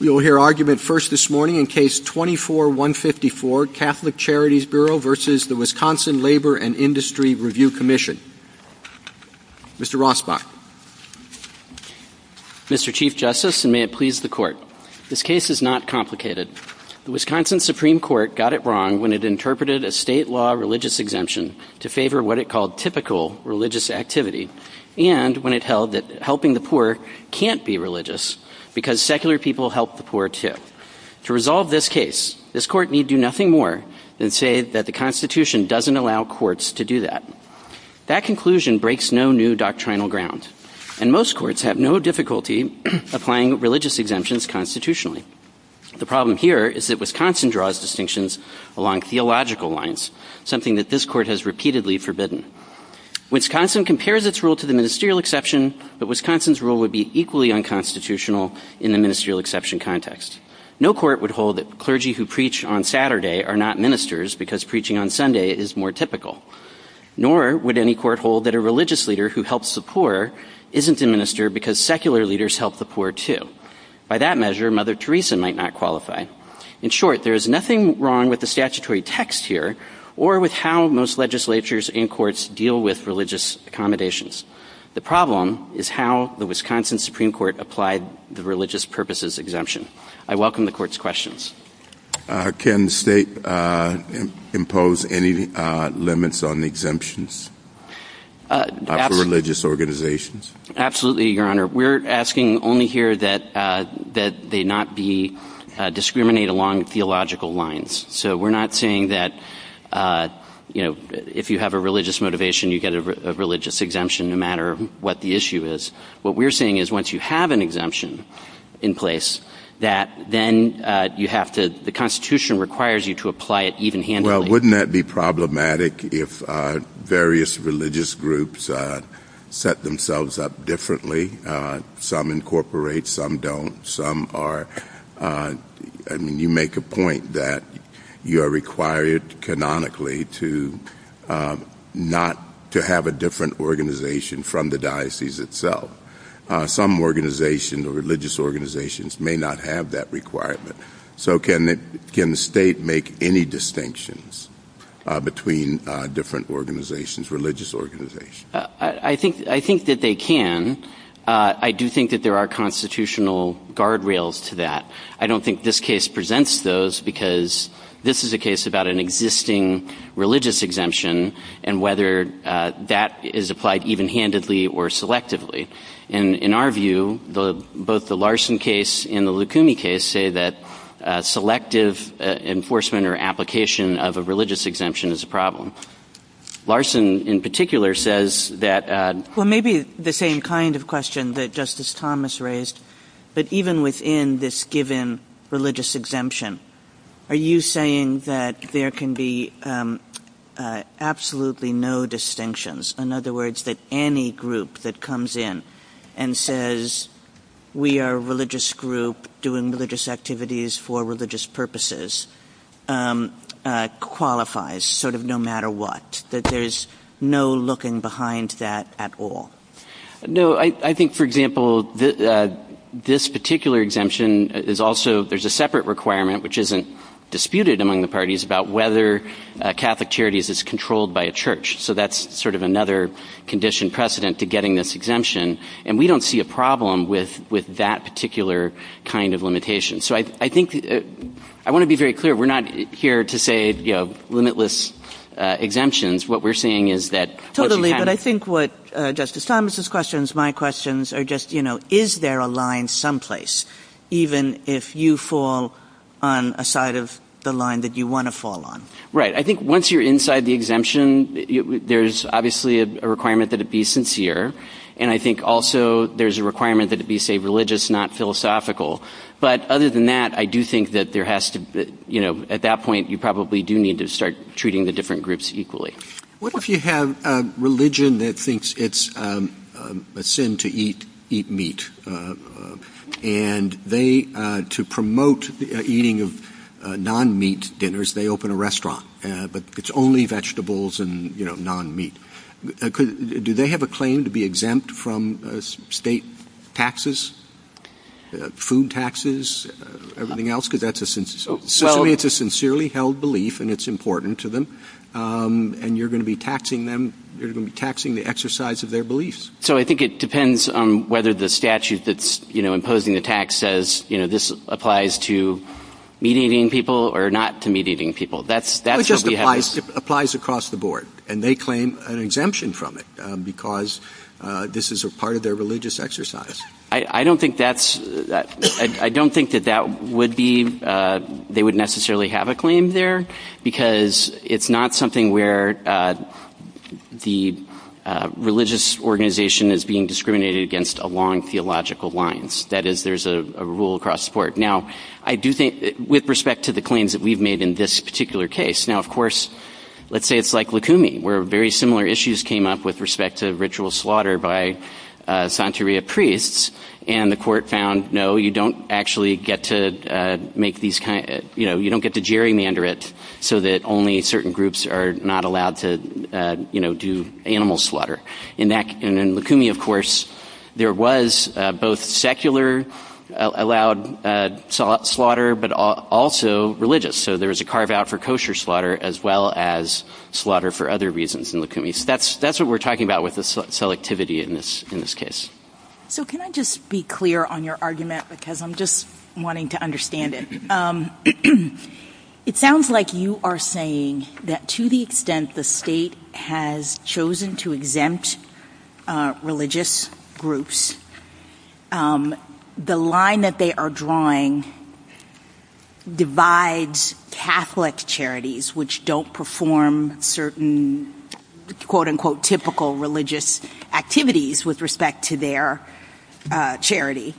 Mr. Chief Justice, and may it please the Court, this case is not complicated. The Wisconsin Supreme Court got it wrong when it interpreted a state law religious exemption to favor what it called typical religious activity, and when it held that helping the poor can't be religious because secular people help the poor. To resolve this case, this Court need do nothing more than say that the Constitution doesn't allow courts to do that. That conclusion breaks no new doctrinal ground, and most courts have no difficulty applying religious exemptions constitutionally. The problem here is that Wisconsin draws distinctions along theological lines, something that this Court has repeatedly forbidden. Wisconsin compares its rule to the ministerial exception, but Wisconsin's rule would be equally unconstitutional in the ministerial exception context. No court would hold that clergy who preach on Saturday are not ministers because preaching on Sunday is more typical. Nor would any court hold that a religious leader who helps the poor isn't a minister because secular leaders help the poor, too. By that measure, Mother Teresa might not qualify. In short, there is nothing wrong with the statutory text here or with how most legislatures and courts deal with religious accommodations. The problem is how the Wisconsin Supreme Court applied the religious purposes exemption. I welcome the Court's questions. Can the state impose any limits on exemptions for religious organizations? Absolutely, Your Honor. We're asking only here that they not discriminate along theological lines. So we're not saying that if you have a religious motivation, you get a religious exemption, no matter what the issue is. What we're saying is once you have an exemption in place, then the Constitution requires you to apply it even handily. Well, wouldn't that be problematic if various religious groups set themselves up differently? Some incorporate, some don't. You make a point that you are required canonically to have a different organization from the diocese itself. Some organizations, religious organizations, may not have that requirement. So can the state make any distinctions between different organizations, religious organizations? I think that they can. I do think that there are constitutional guardrails to that. I don't think this case presents those because this is a case about an existing religious exemption and whether that is applied even handily or selectively. In our view, both the Larson case and the Lucumi case say that selective enforcement or application of a religious exemption is a problem. Larson, in particular, says that... Well, maybe the same kind of question that Justice Thomas raised. But even within this given religious exemption, are you saying that there can be absolutely no distinctions? In other words, that any group that comes in and says we are a religious group doing religious activities for religious purposes qualifies, sort of no matter what? That there's no looking behind that at all? No, I think, for example, this particular exemption is also, there's a separate requirement which isn't disputed among the parties about whether Catholic Charities is controlled by a church. So that's sort of another condition precedent to getting this exemption. And we don't see a problem with that particular kind of limitation. So I think, I want to be very clear, we're not here to say, you know, limitless exemptions. What we're saying is that... Totally, but I think what Justice Thomas's questions, my questions are just, you know, is there a line someplace even if you fall on a side of the line that you want to fall on? Right, I think once you're inside the exemption, there's obviously a requirement that it be sincere. And I think also there's a requirement that it be, say, religious, not philosophical. But other than that, I do think that there has to be, you know, at that point you probably do need to start treating the different groups equally. What if you have a religion that thinks it's a sin to eat meat? And they, to promote eating of non-meat dinners, they open a restaurant. But it's only vegetables and, you know, non-meat. Do they have a claim to be exempt from state taxes, food taxes, everything else? Because that's a sincerely held belief and it's important to them. And you're going to be taxing them, you're going to be taxing the exercise of their beliefs. So I think it depends on whether the statute that's, you know, imposing the tax says, you know, this applies to meat-eating people or not to meat-eating people. That's what we have. It just applies across the board. And they claim an exemption from it because this is a part of their religious exercise. I don't think that's, I don't think that that would be, they would necessarily have a claim there. Because it's not something where the religious organization is being discriminated against along theological lines. That is, there's a rule across the board. Now, I do think, with respect to the claims that we've made in this particular case. Now, of course, let's say it's like Lukumi, where very similar issues came up with respect to ritual slaughter by Santeria priests. And the court found, no, you don't actually get to make these kind of, you know, you don't get to gerrymander it so that only certain groups are not allowed to, you know, do animal slaughter. And in Lukumi, of course, there was both secular allowed slaughter but also religious. So there was a carve out for kosher slaughter as well as slaughter for other reasons in Lukumi. So that's what we're talking about with the selectivity in this case. So can I just be clear on your argument because I'm just wanting to understand it. It sounds like you are saying that to the extent the state has chosen to exempt religious groups, the line that they are drawing divides Catholic charities which don't perform certain quote unquote typical religious activities with respect to their charity.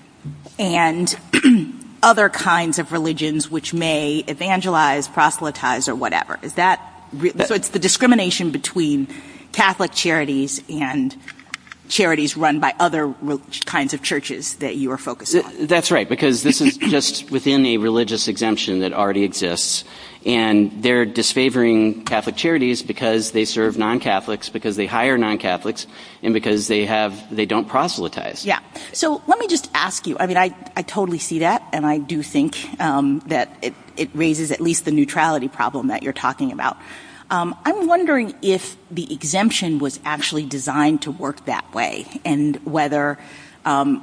And other kinds of religions which may evangelize, proselytize, or whatever. Is that the discrimination between Catholic charities and charities run by other kinds of churches that you are focused on? That's right, because this is just within the religious exemption that already exists. And they're disfavoring Catholic charities because they serve non-Catholics, because they hire non-Catholics, and because they have, they don't proselytize. So let me just ask you, I mean I totally see that and I do think that it raises at least the neutrality problem that you're talking about. I'm wondering if the exemption was actually designed to work that way and whether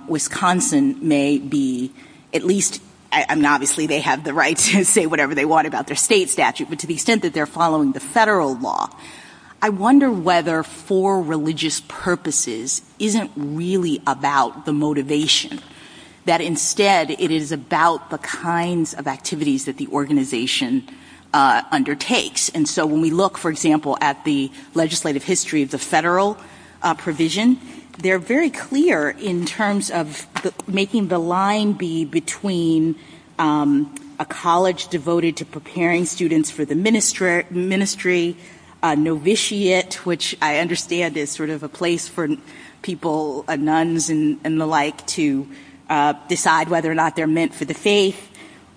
Wisconsin may be at least, and obviously they have the right to say whatever they want about their state statute, but to the extent that they're following the federal law. I wonder whether for religious purposes isn't really about the motivation. That instead it is about the kinds of activities that the organization undertakes. And so when we look, for example, at the legislative history of the federal provision, they're very clear in terms of making the line be between a college devoted to preparing students for the ministry, a novitiate, which I understand is sort of a place for people, nuns and the like, to decide whether or not they're meant for the faith,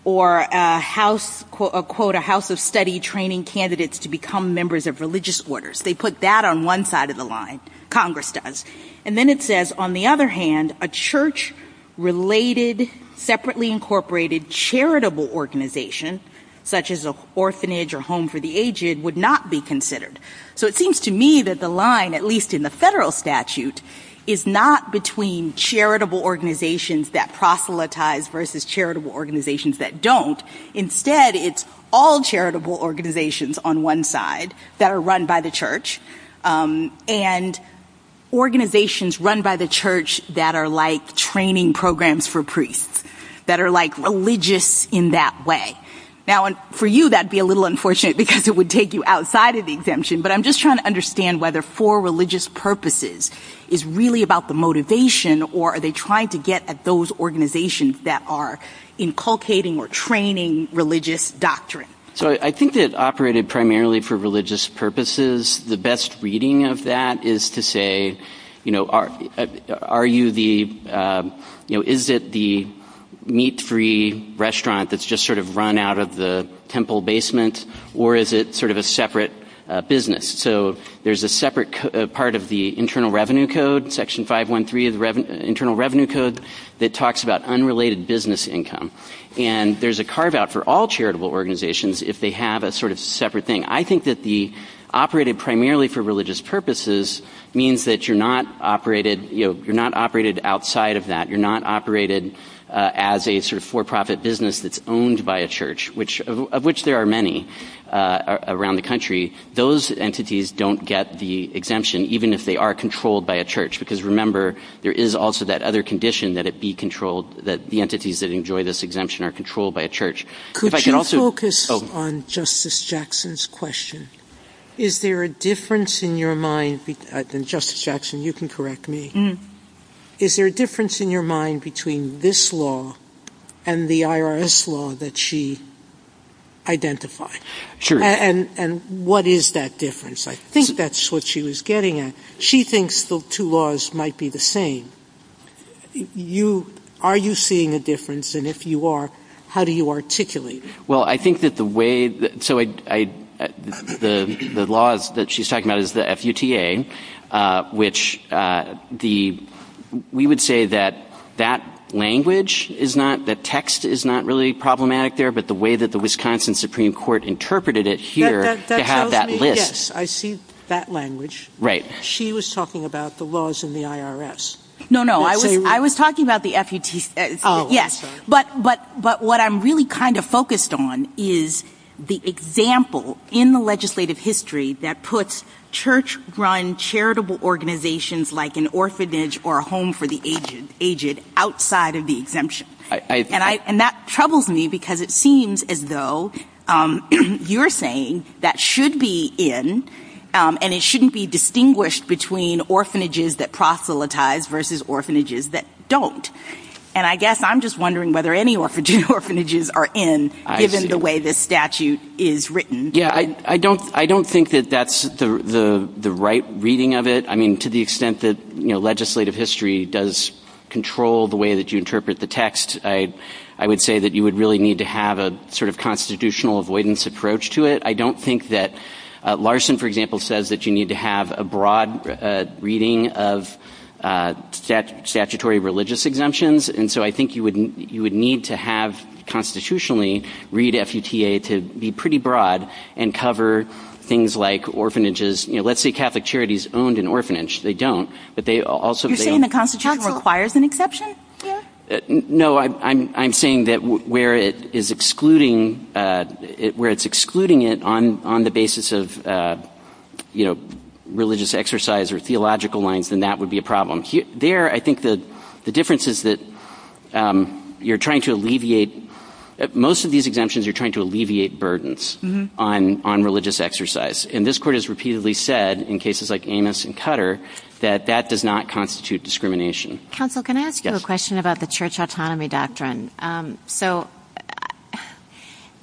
or a house of study training candidates to become members of religious orders. They put that on one side of the line. Congress does. And then it says, on the other hand, a church-related, separately incorporated charitable organization, such as an orphanage or home for the aged, would not be considered. So it seems to me that the line, at least in the federal statute, is not between charitable organizations that proselytize versus charitable organizations that don't. Instead, it's all charitable organizations on one side that are run by the church, and organizations run by the church that are like training programs for priests, that are like religious in that way. Now, for you, that would be a little unfortunate, because it would take you outside of the exemption. But I'm just trying to understand whether for religious purposes is really about the motivation, or are they trying to get at those organizations that are inculcating or training religious doctrine. So I think it operated primarily for religious purposes. The best reading of that is to say, is it the meat-free restaurant that's just sort of run out of the temple basement, or is it sort of a separate business? So there's a separate part of the Internal Revenue Code, Section 513 of the Internal Revenue Code, that talks about unrelated business income. And there's a carve-out for all charitable organizations if they have a sort of separate thing. I think that the operated primarily for religious purposes means that you're not operated outside of that. You're not operated as a sort of for-profit business that's owned by a church, of which there are many around the country. Those entities don't get the exemption, even if they are controlled by a church. Because remember, there is also that other condition that the entities that enjoy this exemption are controlled by a church. Could you focus on Justice Jackson's question? Is there a difference in your mind – and Justice Jackson, you can correct me – is there a difference in your mind between this law and the IRS law that she identified? And what is that difference? I think that's what she was getting at. She thinks the two laws might be the same. Are you seeing a difference, and if you are, how do you articulate it? Well, I think that the way – the law that she's talking about is the FUTA, which we would say that that language is not – that text is not really problematic there, but the way that the Wisconsin Supreme Court interpreted it here to have that list. Yes, I see that language. Right. She was talking about the laws in the IRS. No, no, I was talking about the FUTA. Oh, I'm sorry. Yes, but what I'm really kind of focused on is the example in the legislative history that puts church-run charitable organizations like an orphanage or a home for the aged outside of the exemption. And that troubles me because it seems as though you're saying that should be in, and it shouldn't be distinguished between orphanages that proselytize versus orphanages that don't. And I guess I'm just wondering whether any orphanages are in, given the way this statute is written. Yeah, I don't think that that's the right reading of it. I mean, to the extent that legislative history does control the way that you interpret the text, I would say that you would really need to have a sort of constitutional avoidance approach to it. I don't think that Larson, for example, says that you need to have a broad reading of statutory religious exemptions. And so I think you would need to have constitutionally read FUTA to be pretty broad and cover things like orphanages. Let's say Catholic Charities owned an orphanage. They don't. You're saying the Constitution requires an exception? No, I'm saying that where it's excluding it on the basis of religious exercise or theological lines, then that would be a problem. There, I think the difference is that most of these exemptions, you're trying to alleviate burdens on religious exercise. And this Court has repeatedly said in cases like Amos and Cutter that that does not constitute discrimination. Counsel, can I ask you a question about the church autonomy doctrine? So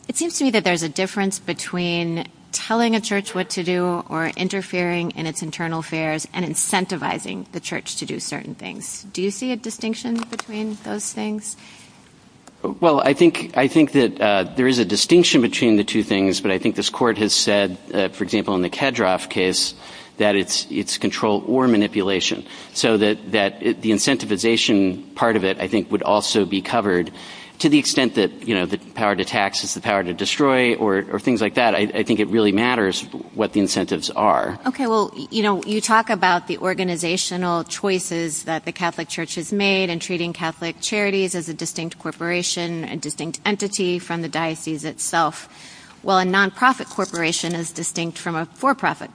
it seems to me that there's a difference between telling a church what to do or interfering in its internal affairs and incentivizing the church to do certain things. Do you see a distinction between those things? Well, I think that there is a distinction between the two things, but I think this Court has said, for example, in the Kedroff case, that it's control or manipulation. So that the incentivization part of it, I think, would also be covered. To the extent that the power to tax is the power to destroy or things like that, I think it really matters what the incentives are. Okay, well, you talk about the organizational choices that the Catholic Church has made in treating Catholic Charities as a distinct corporation, a distinct entity from the diocese itself, while a nonprofit corporation is distinct from a for-profit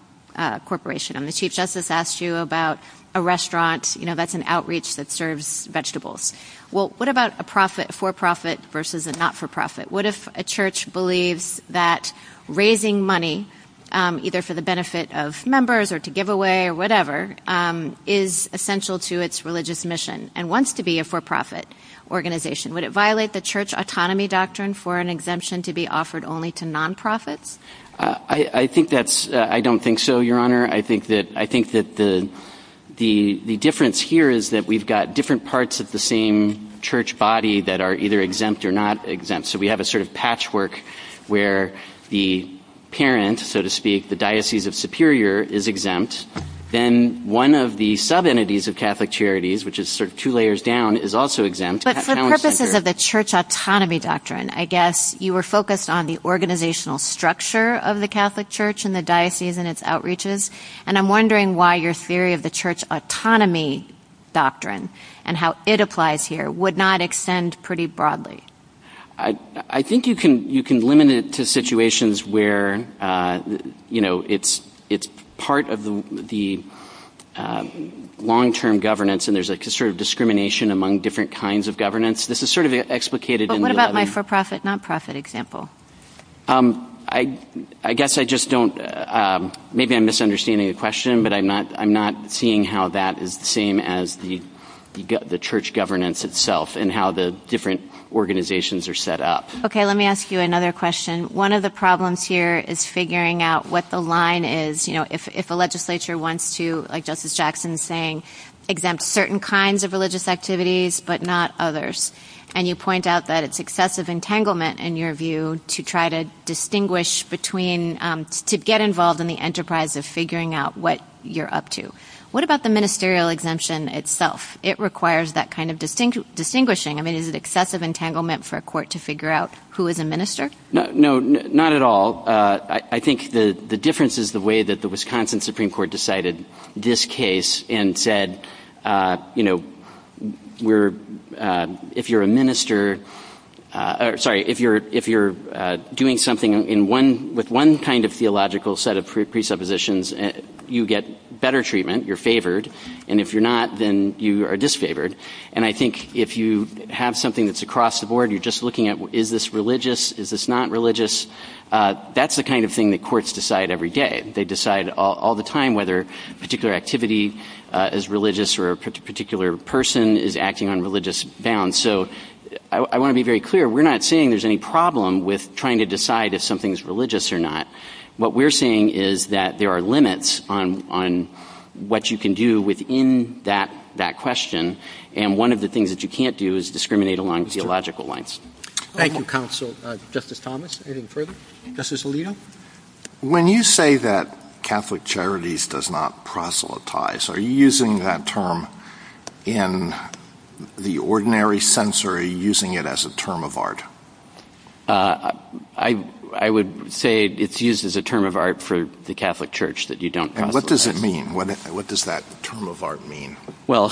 corporation. The Chief Justice asked you about a restaurant, you know, that's an outreach that serves vegetables. Well, what about a for-profit versus a not-for-profit? What if a church believes that raising money, either for the benefit of members or to give away or whatever, is essential to its religious mission and wants to be a for-profit organization? Would it violate the church autonomy doctrine for an exemption to be offered only to nonprofits? I don't think so, Your Honor. I think that the difference here is that we've got different parts of the same church body that are either exempt or not exempt. So we have a sort of patchwork where the parent, so to speak, the Diocese of Superior, is exempt. Then one of the sub-entities of Catholic Charities, which is sort of two layers down, is also exempt. But for purposes of the church autonomy doctrine, I guess, you were focused on the organizational structure of the Catholic Church and the diocese and its outreaches. And I'm wondering why your theory of the church autonomy doctrine and how it applies here would not extend pretty broadly. I think you can limit it to situations where it's part of the long-term governance and there's a sort of discrimination among different kinds of governance. This is sort of explicated in the— But what about my for-profit, not-profit example? I guess I just don't—maybe I'm misunderstanding the question, but I'm not seeing how that is the same as the church governance itself and how the different organizations are set up. Okay, let me ask you another question. One of the problems here is figuring out what the line is. If a legislature wants to, like Justice Jackson is saying, exempt certain kinds of religious activities but not others, and you point out that it's excessive entanglement in your view to try to distinguish between—to get involved in the enterprise of figuring out what you're up to, what about the ministerial exemption itself? It requires that kind of distinguishing. I mean, is it excessive entanglement for a court to figure out who is a minister? No, not at all. I think the difference is the way that the Wisconsin Supreme Court decided this case and said, you know, if you're a minister—sorry, if you're doing something with one kind of theological set of presuppositions, you get better treatment, you're favored, and if you're not, then you are disfavored. And I think if you have something that's across the board, you're just looking at is this religious, is this not religious, that's the kind of thing that courts decide every day. They decide all the time whether a particular activity is religious or a particular person is acting on religious bounds. So I want to be very clear. We're not saying there's any problem with trying to decide if something is religious or not. What we're saying is that there are limits on what you can do within that question, and one of the things that you can't do is discriminate along theological lines. Thank you, Counsel. Justice Thomas, anything further? Justice Alito? When you say that Catholic Charities does not proselytize, are you using that term in the ordinary sense, or are you using it as a term of art? I would say it's used as a term of art for the Catholic Church, that you don't proselytize. And what does it mean? What does that term of art mean? Well,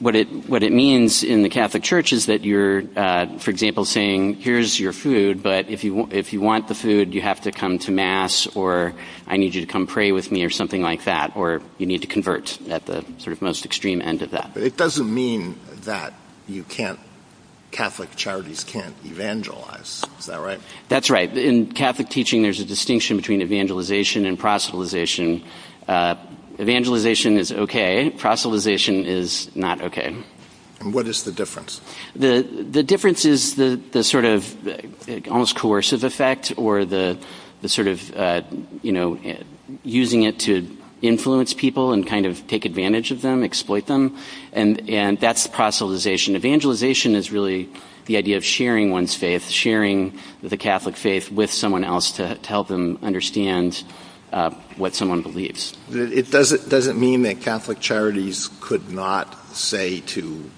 what it means in the Catholic Church is that you're, for example, saying, here's your food, but if you want the food, you have to come to Mass, or I need you to come pray with me, or something like that, or you need to convert at the sort of most extreme end of that. But it doesn't mean that you can't, Catholic Charities can't evangelize. Is that right? That's right. In Catholic teaching, there's a distinction between evangelization and proselytization. Evangelization is okay. Proselytization is not okay. And what is the difference? The difference is the sort of almost coercive effect, or the sort of using it to influence people and kind of take advantage of them, exploit them. And that's proselytization. Evangelization is really the idea of sharing one's faith, sharing the Catholic faith with someone else to help them understand what someone believes. It doesn't mean that Catholic Charities could not say to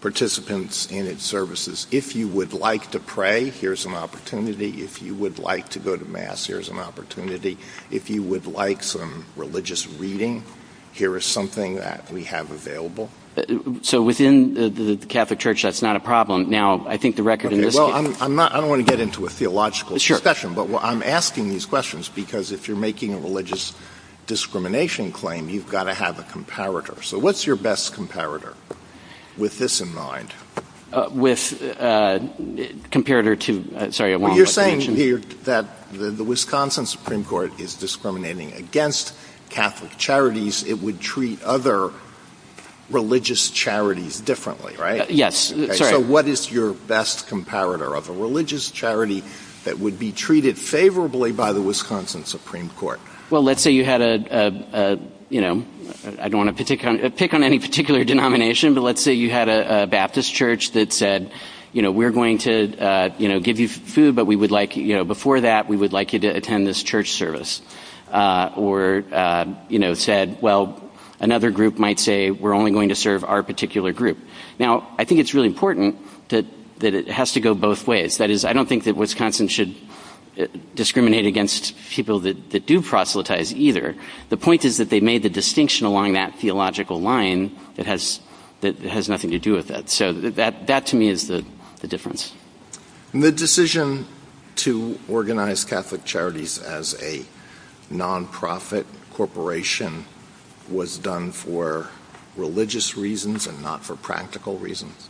participants in its services, if you would like to pray, here's an opportunity. If you would like to go to Mass, here's an opportunity. If you would like some religious reading, here is something that we have available. So within the Catholic Church, that's not a problem. I don't want to get into a theological discussion, but I'm asking these questions because if you're making a religious discrimination claim, you've got to have a comparator. So what's your best comparator, with this in mind? You're saying here that the Wisconsin Supreme Court is discriminating against Catholic Charities. It would treat other religious charities differently, right? Yes. So what is your best comparator of a religious charity that would be treated favorably by the Wisconsin Supreme Court? Well, let's say you had a, you know, I don't want to pick on any particular denomination, but let's say you had a Baptist Church that said, you know, we're going to give you food, but before that we would like you to attend this church service. Or, you know, said, well, another group might say, we're only going to serve our particular group. Now, I think it's really important that it has to go both ways. That is, I don't think that Wisconsin should discriminate against people that do proselytize either. The point is that they made the distinction along that theological line that has nothing to do with that. So that to me is the difference. The decision to organize Catholic Charities as a nonprofit corporation was done for religious reasons and not for practical reasons?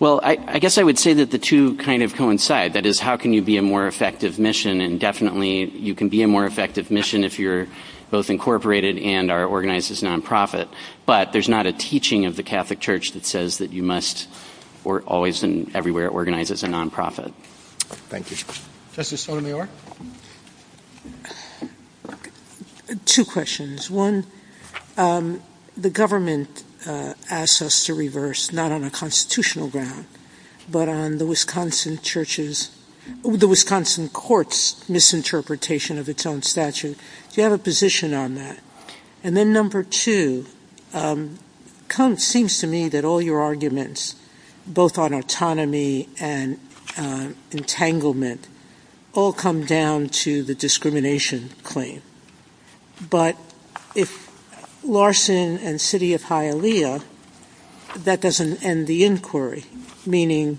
Well, I guess I would say that the two kind of coincide. That is, how can you be a more effective mission? And definitely you can be a more effective mission if you're both incorporated and are organized as nonprofit. But there's not a teaching of the Catholic Church that says that you must always and everywhere organize as a nonprofit. Thank you. Justice Sotomayor? Two questions. One, the government asks us to reverse, not on a constitutional ground, but on the Wisconsin courts' misinterpretation of its own statute. Do you have a position on that? And then number two, it seems to me that all your arguments, both on autonomy and entanglement, all come down to the discrimination claim. But if Larson and City of Hialeah, that doesn't end the inquiry, meaning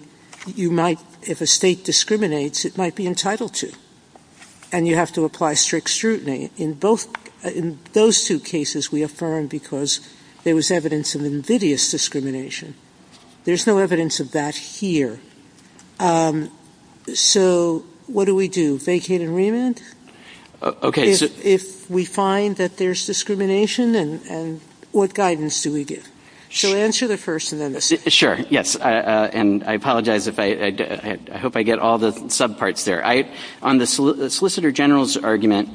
if a state discriminates, it might be entitled to. And you have to apply strict scrutiny. In those two cases, we affirm because there was evidence of invidious discrimination. There's no evidence of that here. So what do we do? Vacate and remand? Okay. If we find that there's discrimination, then what guidance do we give? So answer the first and then the second. Sure, yes. And I apologize. I hope I get all the subparts there. On the solicitor general's argument,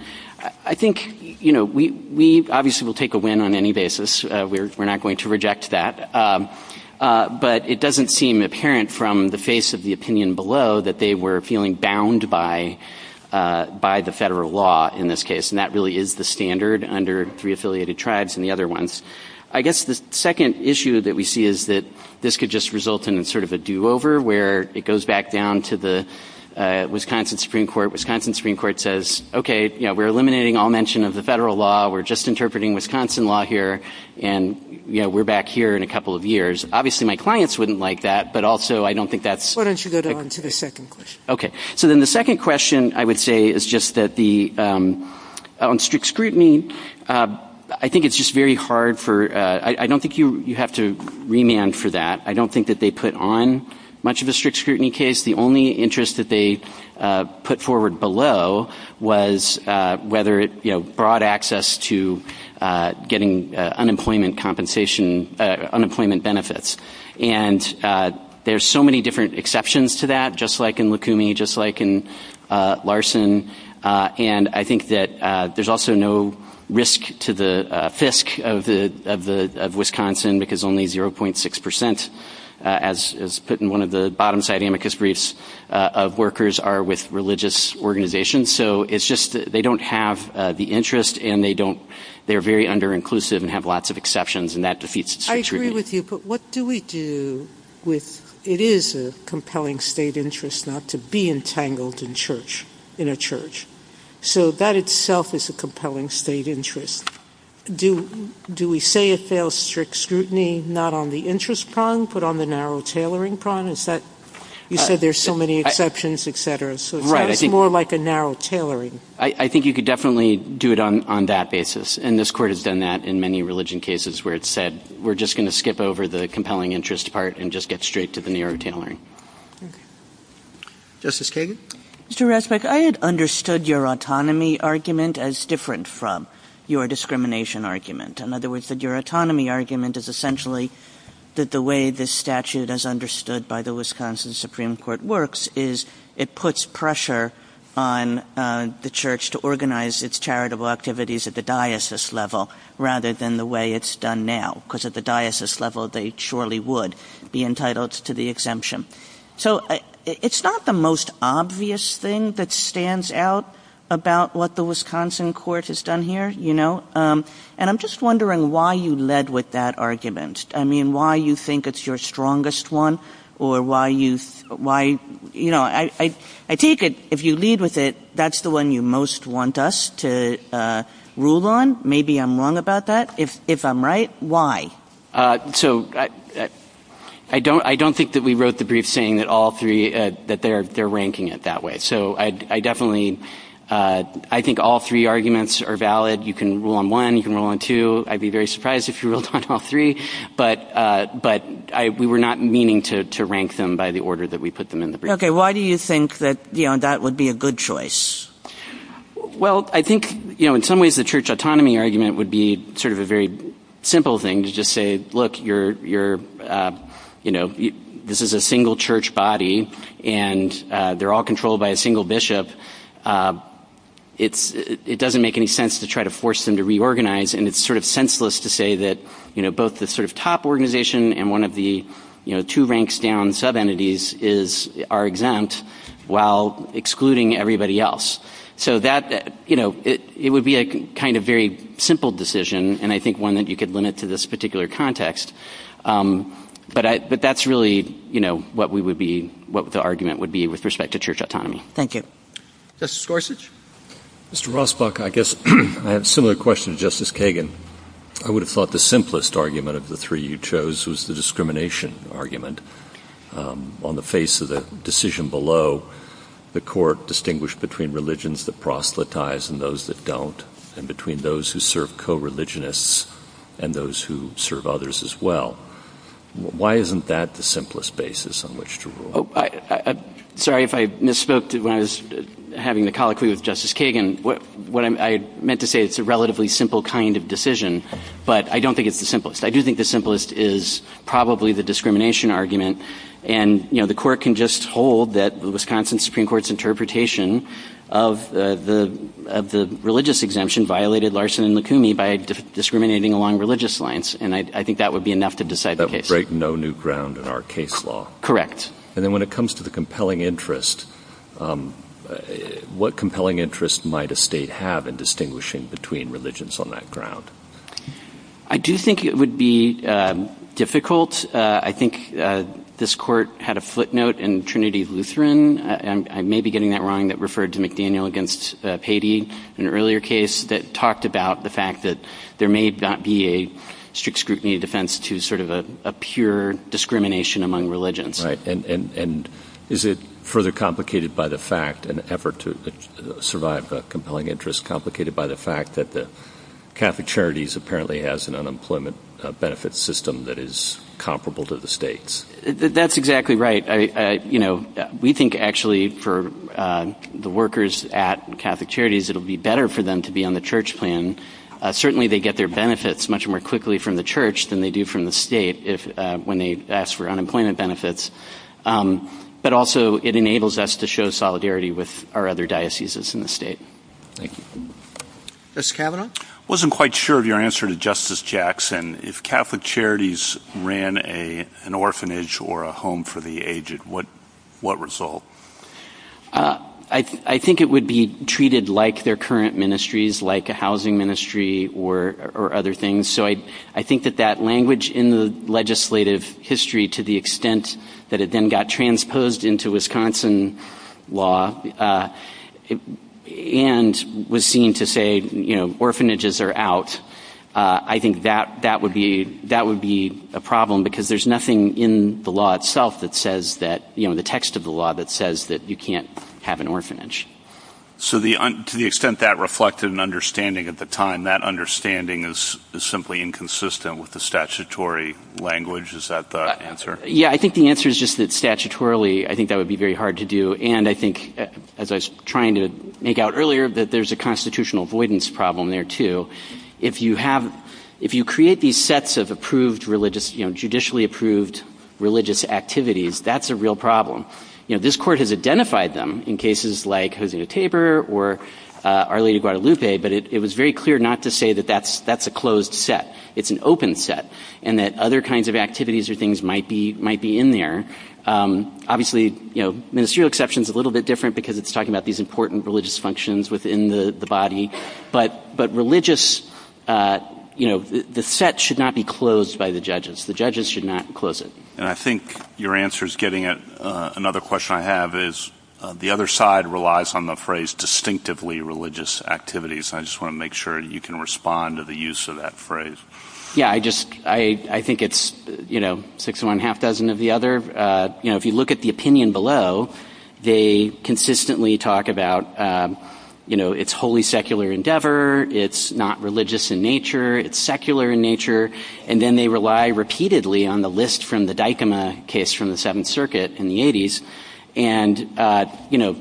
I think, you know, we obviously will take a win on any basis. We're not going to reject that. But it doesn't seem apparent from the face of the opinion below that they were feeling bound by the federal law in this case, and that really is the standard under three affiliated tribes and the other ones. I guess the second issue that we see is that this could just result in sort of a do-over where it goes back down to the Wisconsin Supreme Court. Wisconsin Supreme Court says, okay, you know, we're eliminating all mention of the federal law. We're just interpreting Wisconsin law here, and, you know, we're back here in a couple of years. Obviously, my clients wouldn't like that, but also I don't think that's Why don't you go down to the second question? Okay. So then the second question, I would say, is just that on strict scrutiny, I think it's just very hard for I don't think you have to remand for that. I don't think that they put on much of a strict scrutiny case. The only interest that they put forward below was whether, you know, broad access to getting unemployment benefits. And there's so many different exceptions to that, just like in Lukumi, just like in Larson. And I think that there's also no risk to the FISC of Wisconsin because only 0.6 percent, as put in one of the bottom-side amicus briefs, of workers are with religious organizations. So it's just they don't have the interest, and they're very under-inclusive and have lots of exceptions, and that defeats strict scrutiny. I agree with you, but what do we do with It is a compelling state interest not to be entangled in church, in a church. So that itself is a compelling state interest. Do we say it fails strict scrutiny not on the interest prong, but on the narrow tailoring prong? You said there's so many exceptions, et cetera, so it's more like a narrow tailoring. I think you could definitely do it on that basis, and this Court has done that in many religion cases where it said we're just going to skip over the compelling interest part and just get straight to the narrow tailoring. Justice Kagan? Mr. Rathbuck, I had understood your autonomy argument as different from your discrimination argument. In other words, your autonomy argument is essentially that the way this statute, as understood by the Wisconsin Supreme Court works, is it puts pressure on the church to organize its charitable activities at the diocese level rather than the way it's done now, because at the diocese level they surely would be entitled to the exemption. So it's not the most obvious thing that stands out about what the Wisconsin Court has done here, you know. And I'm just wondering why you led with that argument. I mean, why you think it's your strongest one, or why you, you know, I take it if you lead with it, that's the one you most want us to rule on. Maybe I'm wrong about that. If I'm right, why? So I don't think that we wrote the brief saying that all three, that they're ranking it that way. So I definitely, I think all three arguments are valid. You can rule on one, you can rule on two. I'd be very surprised if you ruled on all three. But we were not meaning to rank them by the order that we put them in the brief. Okay, why do you think that, you know, that would be a good choice? Well, I think, you know, in some ways the church autonomy argument would be sort of a very simple thing to just say, look, you're, you know, this is a single church body, and they're all controlled by a single bishop. It doesn't make any sense to try to force them to reorganize, and it's sort of senseless to say that, you know, both the sort of top organization and one of the, you know, two ranks down sub-entities are exempt while excluding everybody else. So that, you know, it would be a kind of very simple decision, and I think one that you could limit to this particular context. But that's really, you know, what we would be, what the argument would be with respect to church autonomy. Thank you. Justice Gorsuch? Mr. Rosbach, I guess I have a similar question to Justice Kagan. I would have thought the simplest argument of the three you chose was the discrimination argument. On the face of the decision below, the court distinguished between religions that proselytize and those that don't, and between those who serve co-religionists and those who serve others as well. Why isn't that the simplest basis on which to rule? Sorry if I misspoke when I was having the colloquy with Justice Kagan. What I meant to say is it's a relatively simple kind of decision, but I don't think it's the simplest. I do think the simplest is probably the discrimination argument, and, you know, the court can just hold that the Wisconsin Supreme Court's interpretation of the religious exemption violated Larson and Lukumi by discriminating along religious lines, and I think that would be enough to decide the case. That would break no new ground in our case law. Correct. And then when it comes to the compelling interest, what compelling interest might a state have in distinguishing between religions on that ground? I do think it would be difficult. I think this court had a footnote in Trinity Lutheran, and I may be getting that wrong, that referred to McDaniel against Patey in an earlier case that talked about the fact that there may not be a strict scrutiny defense to sort of a pure discrimination among religions. Right. And is it further complicated by the fact, an effort to survive a compelling interest, complicated by the fact that the Catholic Charities apparently has an unemployment benefit system that is comparable to the states? That's exactly right. You know, we think actually for the workers at Catholic Charities it will be better for them to be on the church plan. Certainly they get their benefits much more quickly from the church than they do from the state when they ask for unemployment benefits. But also it enables us to show solidarity with our other dioceses in the state. Thank you. Justice Kavanaugh? I wasn't quite sure of your answer to Justice Jackson. If Catholic Charities ran an orphanage or a home for the aged, what result? I think it would be treated like their current ministries, like a housing ministry or other things. So I think that that language in the legislative history to the extent that it then got transposed into Wisconsin law and was seen to say, you know, orphanages are out. I think that would be a problem because there's nothing in the law itself that says that, you know, the text of the law that says that you can't have an orphanage. So to the extent that reflected an understanding at the time, that understanding is simply inconsistent with the statutory language. Is that the answer? Yeah, I think the answer is just that statutorily I think that would be very hard to do. And I think, as I was trying to make out earlier, that there's a constitutional avoidance problem there too. If you create these sets of approved religious, you know, judicially approved religious activities, that's a real problem. You know, this court has identified them in cases like Hosing a Tabor or Our Lady of Guadalupe, but it was very clear not to say that that's a closed set. It's an open set and that other kinds of activities or things might be in there. Obviously, you know, ministerial exception is a little bit different because it's talking about these important religious functions within the body. But religious, you know, the set should not be closed by the judges. The judges should not close it. And I think your answer is getting at another question I have is, the other side relies on the phrase distinctively religious activities. I just want to make sure you can respond to the use of that phrase. Yeah, I just, I think it's, you know, six and a half dozen of the other. You know, if you look at the opinion below, they consistently talk about, you know, it's wholly secular endeavor, it's not religious in nature, it's secular in nature. And then they rely repeatedly on the list from the Dykema case from the Seventh Circuit in the 80s. And, you know,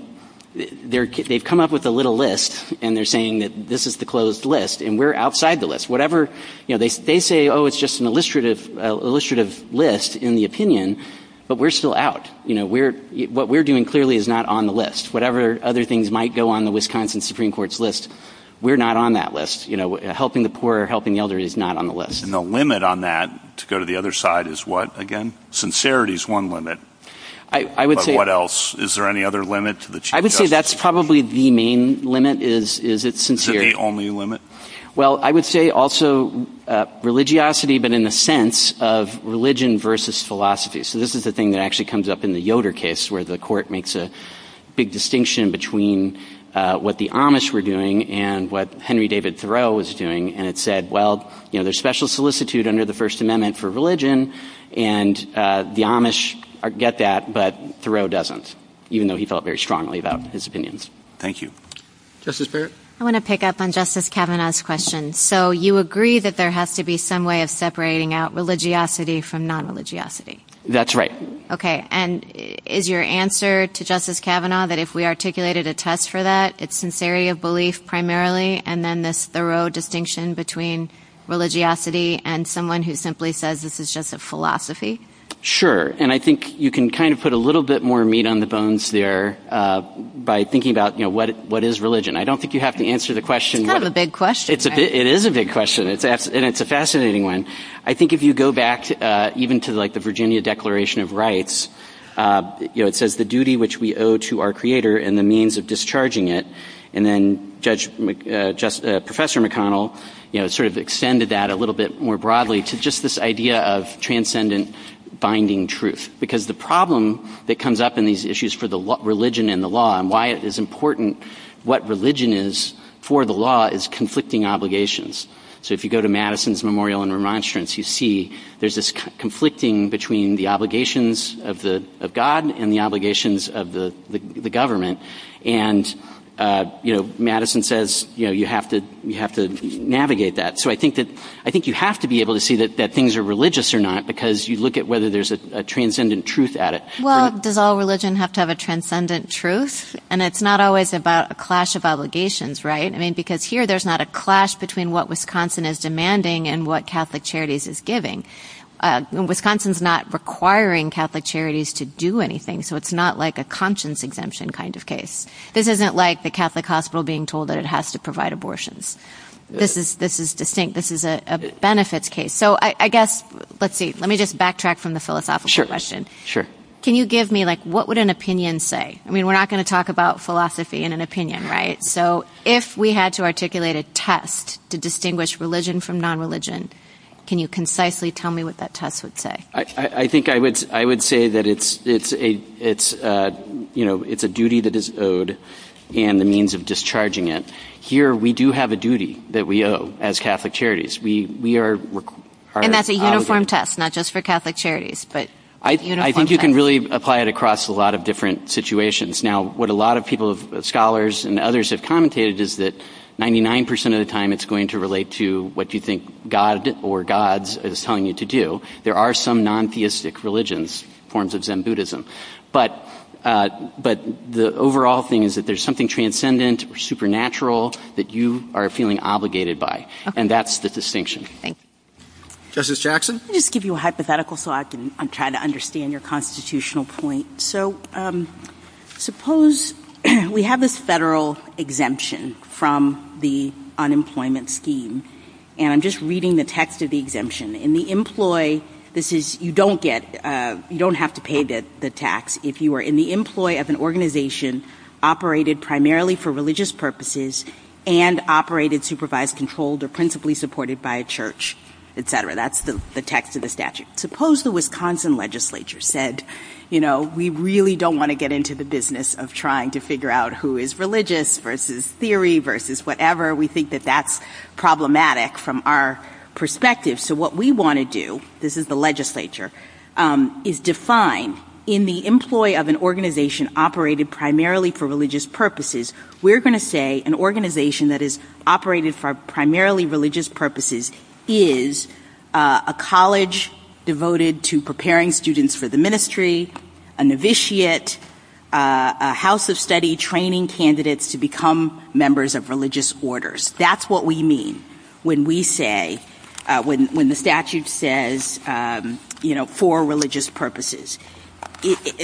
they've come up with a little list and they're saying that this is the closed list and we're outside the list. Whatever, you know, they say, oh, it's just an illustrative list in the opinion, but we're still out. You know, what we're doing clearly is not on the list. Whatever other things might go on the Wisconsin Supreme Court's list, we're not on that list. You know, helping the poor or helping the elderly is not on the list. There's no limit on that. To go to the other side is what, again? Sincerity is one limit. But what else? Is there any other limit to the Chief Justice? I would say that's probably the main limit is it's sincerity. Is it the only limit? Well, I would say also religiosity, but in the sense of religion versus philosophy. So this is the thing that actually comes up in the Yoder case where the court makes a big distinction between what the Amish were doing and what Henry David Thoreau was doing. And it said, well, you know, there's special solicitude under the First Amendment for religion, and the Amish get that, but Thoreau doesn't, even though he felt very strongly about his opinions. Thank you. Justice Barrett? I want to pick up on Justice Kavanaugh's question. So you agree that there has to be some way of separating out religiosity from non-religiosity? That's right. Okay. And is your answer to Justice Kavanaugh that if we articulated a test for that, it's sincerity of belief primarily and then this Thoreau distinction between religiosity and someone who simply says this is just a philosophy? Sure. And I think you can kind of put a little bit more meat on the bones there by thinking about, you know, what is religion? I don't think you have to answer the question. It's not a big question. It is a big question, and it's a fascinating one. I think if you go back even to, like, the Virginia Declaration of Rights, you know, it says the duty which we owe to our creator and the means of discharging it, and then Professor McConnell, you know, sort of extended that a little bit more broadly to just this idea of transcendent binding truth. Because the problem that comes up in these issues for religion and the law and why it is important what religion is for the law is conflicting obligations. So if you go to Madison's memorial in Remonstrance, you see there's this conflicting between the obligations of God and the obligations of the government. And, you know, Madison says, you know, you have to navigate that. So I think you have to be able to see that things are religious or not because you look at whether there's a transcendent truth at it. Well, does all religion have to have a transcendent truth? And it's not always about a clash of obligations, right? I mean, because here there's not a clash between what Wisconsin is demanding and what Catholic Charities is giving. Wisconsin's not requiring Catholic Charities to do anything, so it's not like a conscience exemption kind of case. This isn't like the Catholic hospital being told that it has to provide abortions. This is distinct. This is a benefits case. So I guess, let's see, let me just backtrack from the philosophical question. Can you give me, like, what would an opinion say? I mean, we're not going to talk about philosophy in an opinion, right? So if we had to articulate a test to distinguish religion from non-religion, can you concisely tell me what that test would say? I think I would say that it's a duty that is owed and the means of discharging it. Here we do have a duty that we owe as Catholic Charities. And that's a uniform test, not just for Catholic Charities. I think you can really apply it across a lot of different situations. Now, what a lot of people, scholars and others have commented is that 99% of the time it's going to relate to what you think God or gods is telling you to do. There are some non-theistic religions, forms of Zen Buddhism. But the overall thing is that there's something transcendent, supernatural, that you are feeling obligated by, and that's the distinction. Thank you. Justice Jackson? Let me just give you a hypothetical so I can try to understand your constitutional point. So suppose we have this federal exemption from the unemployment scheme. And I'm just reading the text of the exemption. In the employee, you don't have to pay the tax. If you are in the employee of an organization operated primarily for religious purposes and operated, supervised, controlled, or principally supported by a church, et cetera. That's the text of the statute. Suppose the Wisconsin legislature said, you know, we really don't want to get into the business of trying to figure out who is religious versus theory versus whatever. We think that that's problematic from our perspective. So what we want to do, this is the legislature, is define in the employee of an organization operated primarily for religious purposes, we're going to say an organization that is operated for primarily religious purposes is a college devoted to preparing students for the ministry, a novitiate, a house of study training candidates to become members of religious orders. That's what we mean when we say, when the statute says, you know, for religious purposes.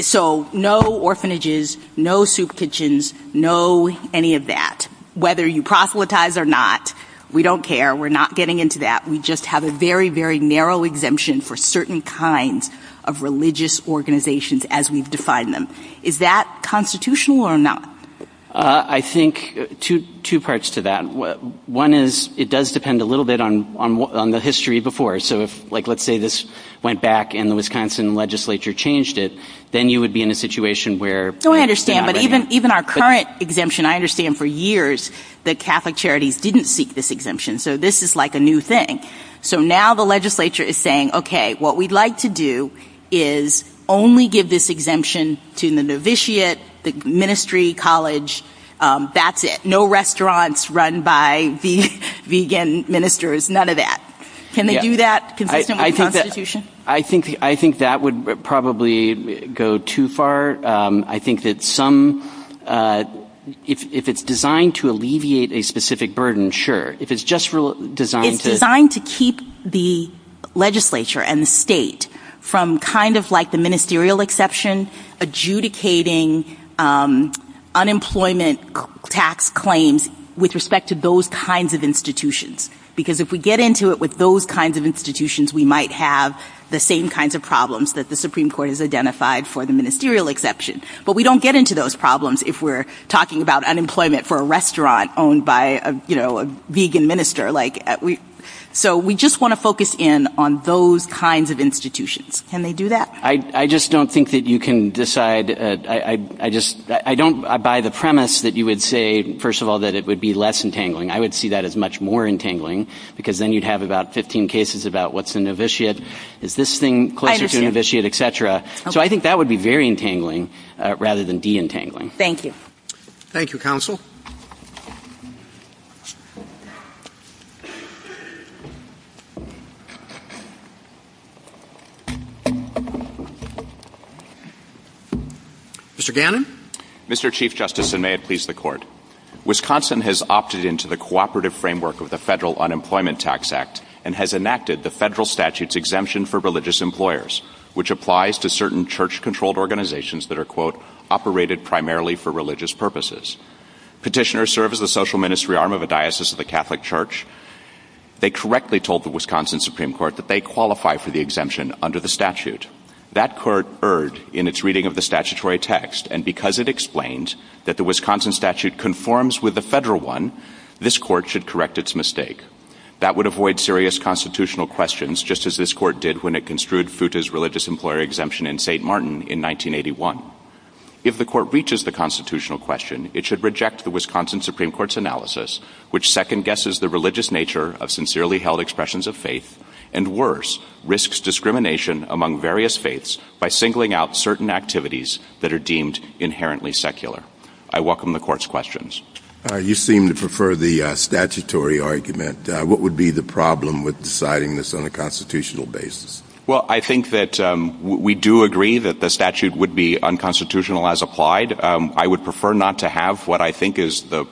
So no orphanages, no soup kitchens, no any of that. Whether you proselytize or not, we don't care. We're not getting into that. We just have a very, very narrow exemption for certain kinds of religious organizations as we've defined them. Is that constitutional or not? I think two parts to that. One is it does depend a little bit on the history before. So if, like, let's say this went back and the Wisconsin legislature changed it, then you would be in a situation where you would be out of it. I understand. But even our current exemption, I understand for years the Catholic charities didn't seek this exemption. So this is like a new thing. So now the legislature is saying, okay, what we'd like to do is only give this exemption to the novitiate, the ministry, college, that's it. No restaurants run by vegan ministers, none of that. Can they do that consistent with the Constitution? I think that would probably go too far. I think that some, if it's designed to alleviate a specific burden, sure. If it's just designed to. It's designed to keep the legislature and the state from kind of like the ministerial exception, adjudicating unemployment tax claims with respect to those kinds of institutions. Because if we get into it with those kinds of institutions, we might have the same kinds of problems that the Supreme Court has identified for the ministerial exception. But we don't get into those problems if we're talking about unemployment for a restaurant owned by a vegan minister. So we just want to focus in on those kinds of institutions. Can they do that? I just don't think that you can decide. I don't buy the premise that you would say, first of all, that it would be less entangling. I would see that as much more entangling because then you'd have about 15 cases about what's an officiate. Is this thing closer to an officiate, et cetera? So I think that would be very entangling rather than de-entangling. Thank you. Thank you, Counsel. Mr. Gannon. Mr. Chief Justice, and may it please the Court. Wisconsin has opted into the cooperative framework of the Federal Unemployment Tax Act and has enacted the federal statute's exemption for religious employers, which applies to certain church-controlled organizations that are, quote, operated primarily for religious purposes. Petitioners serve as the social ministry arm of a diocese of the Catholic Church. They correctly told the Wisconsin Supreme Court that they qualify for the exemption under the statute. That court erred in its reading of the statutory text, and because it explained that the Wisconsin statute conforms with the federal one, this court should correct its mistake. That would avoid serious constitutional questions, just as this court did when it construed FUTA's religious employer exemption in St. Martin in 1981. If the court reaches the constitutional question, it should reject the Wisconsin Supreme Court's analysis, which second-guesses the religious nature of sincerely held expressions of faith and, worse, risks discrimination among various faiths by singling out certain activities that are deemed inherently secular. I welcome the Court's questions. You seem to prefer the statutory argument. What would be the problem with deciding this on a constitutional basis? Well, I think that we do agree that the statute would be unconstitutional as applied. I would prefer not to have what I think is the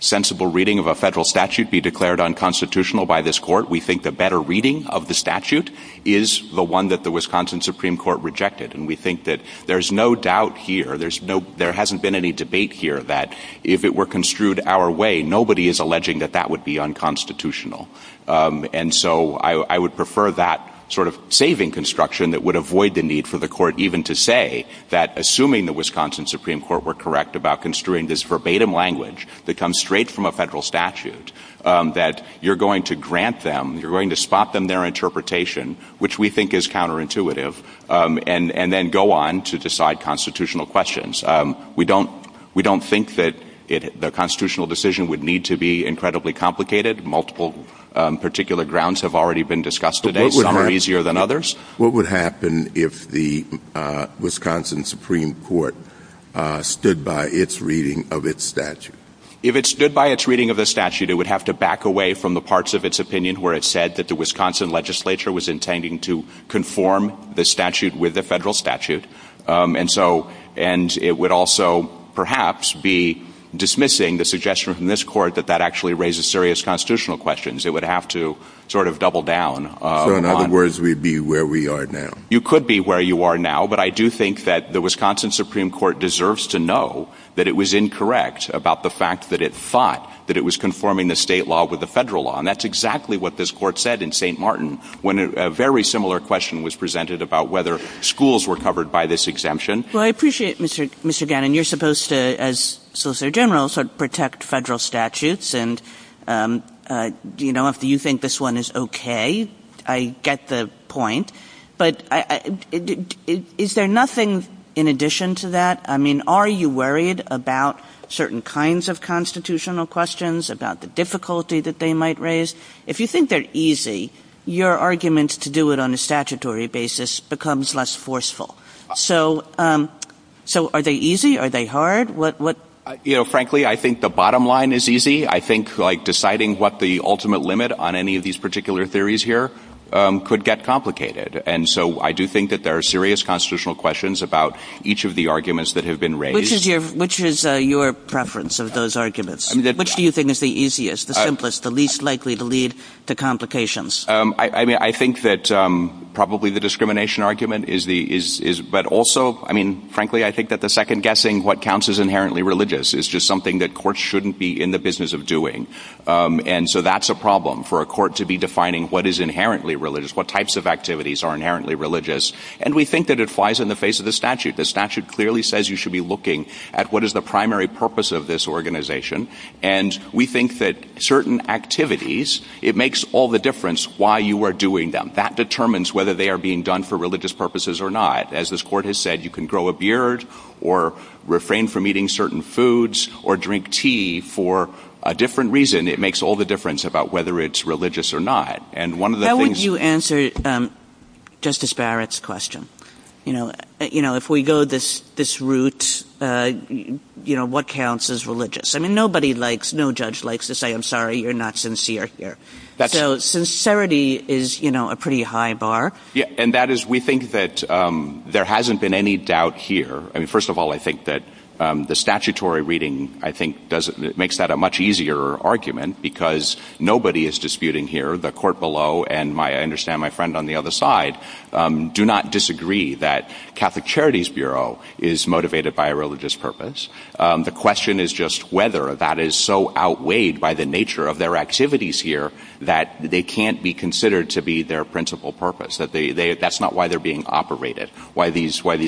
sensible reading of a federal statute be declared unconstitutional by this court. We think the better reading of the statute is the one that the Wisconsin Supreme Court rejected, and we think that there's no doubt here. There hasn't been any debate here that if it were construed our way, nobody is alleging that that would be unconstitutional. And so I would prefer that sort of saving construction that would avoid the need for the court even to say that, assuming the Wisconsin Supreme Court were correct about construing this verbatim language that comes straight from a federal statute, that you're going to grant them, you're going to spot them their interpretation, which we think is counterintuitive, and then go on to decide constitutional questions. We don't think that the constitutional decision would need to be incredibly complicated. Multiple particular grounds have already been discussed today. Some are easier than others. What would happen if the Wisconsin Supreme Court stood by its reading of its statute? If it stood by its reading of the statute, it would have to back away from the parts of its opinion where it said that the Wisconsin legislature was intending to conform the statute with the federal statute, and it would also perhaps be dismissing the suggestion from this court that that actually raises serious constitutional questions. It would have to sort of double down. So in other words, we'd be where we are now. You could be where you are now, but I do think that the Wisconsin Supreme Court deserves to know that it was incorrect about the fact that it thought that it was conforming the state law with the federal law, and that's exactly what this court said in St. Martin when a very similar question was presented about whether schools were covered by this exemption. Well, I appreciate it, Mr. Gannon. You're supposed to, as Solicitor General, sort of protect federal statutes, and, you know, if you think this one is okay, I get the point. But is there nothing in addition to that? I mean, are you worried about certain kinds of constitutional questions, about the difficulty that they might raise? If you think they're easy, your argument to do it on a statutory basis becomes less forceful. So are they easy? Are they hard? You know, frankly, I think the bottom line is easy. I think, like, deciding what the ultimate limit on any of these particular theories here could get complicated. And so I do think that there are serious constitutional questions about each of the arguments that have been raised. Which is your preference of those arguments? Which do you think is the easiest, the simplest, the least likely to lead to complications? I mean, I think that probably the discrimination argument is the— but also, I mean, frankly, I think that the second guessing, what counts as inherently religious, is just something that courts shouldn't be in the business of doing. And so that's a problem for a court to be defining what is inherently religious, what types of activities are inherently religious. And we think that it flies in the face of the statute. The statute clearly says you should be looking at what is the primary purpose of this organization. And we think that certain activities, it makes all the difference why you are doing them. That determines whether they are being done for religious purposes or not. As this court has said, you can grow a beard, or refrain from eating certain foods, or drink tea for a different reason. It makes all the difference about whether it's religious or not. And one of the things— How would you answer Justice Barrett's question? You know, if we go this route, you know, what counts as religious? I mean, nobody likes, no judge likes to say, I'm sorry, you're not sincere here. So sincerity is, you know, a pretty high bar. Yeah, and that is, we think that there hasn't been any doubt here. I mean, first of all, I think that the statutory reading, I think, makes that a much easier argument because nobody is disputing here. The court below, and I understand my friend on the other side, do not disagree that Catholic Charities Bureau is motivated by a religious purpose. The question is just whether that is so outweighed by the nature of their activities here that they can't be considered to be their principal purpose. That's not why they're being operated, why these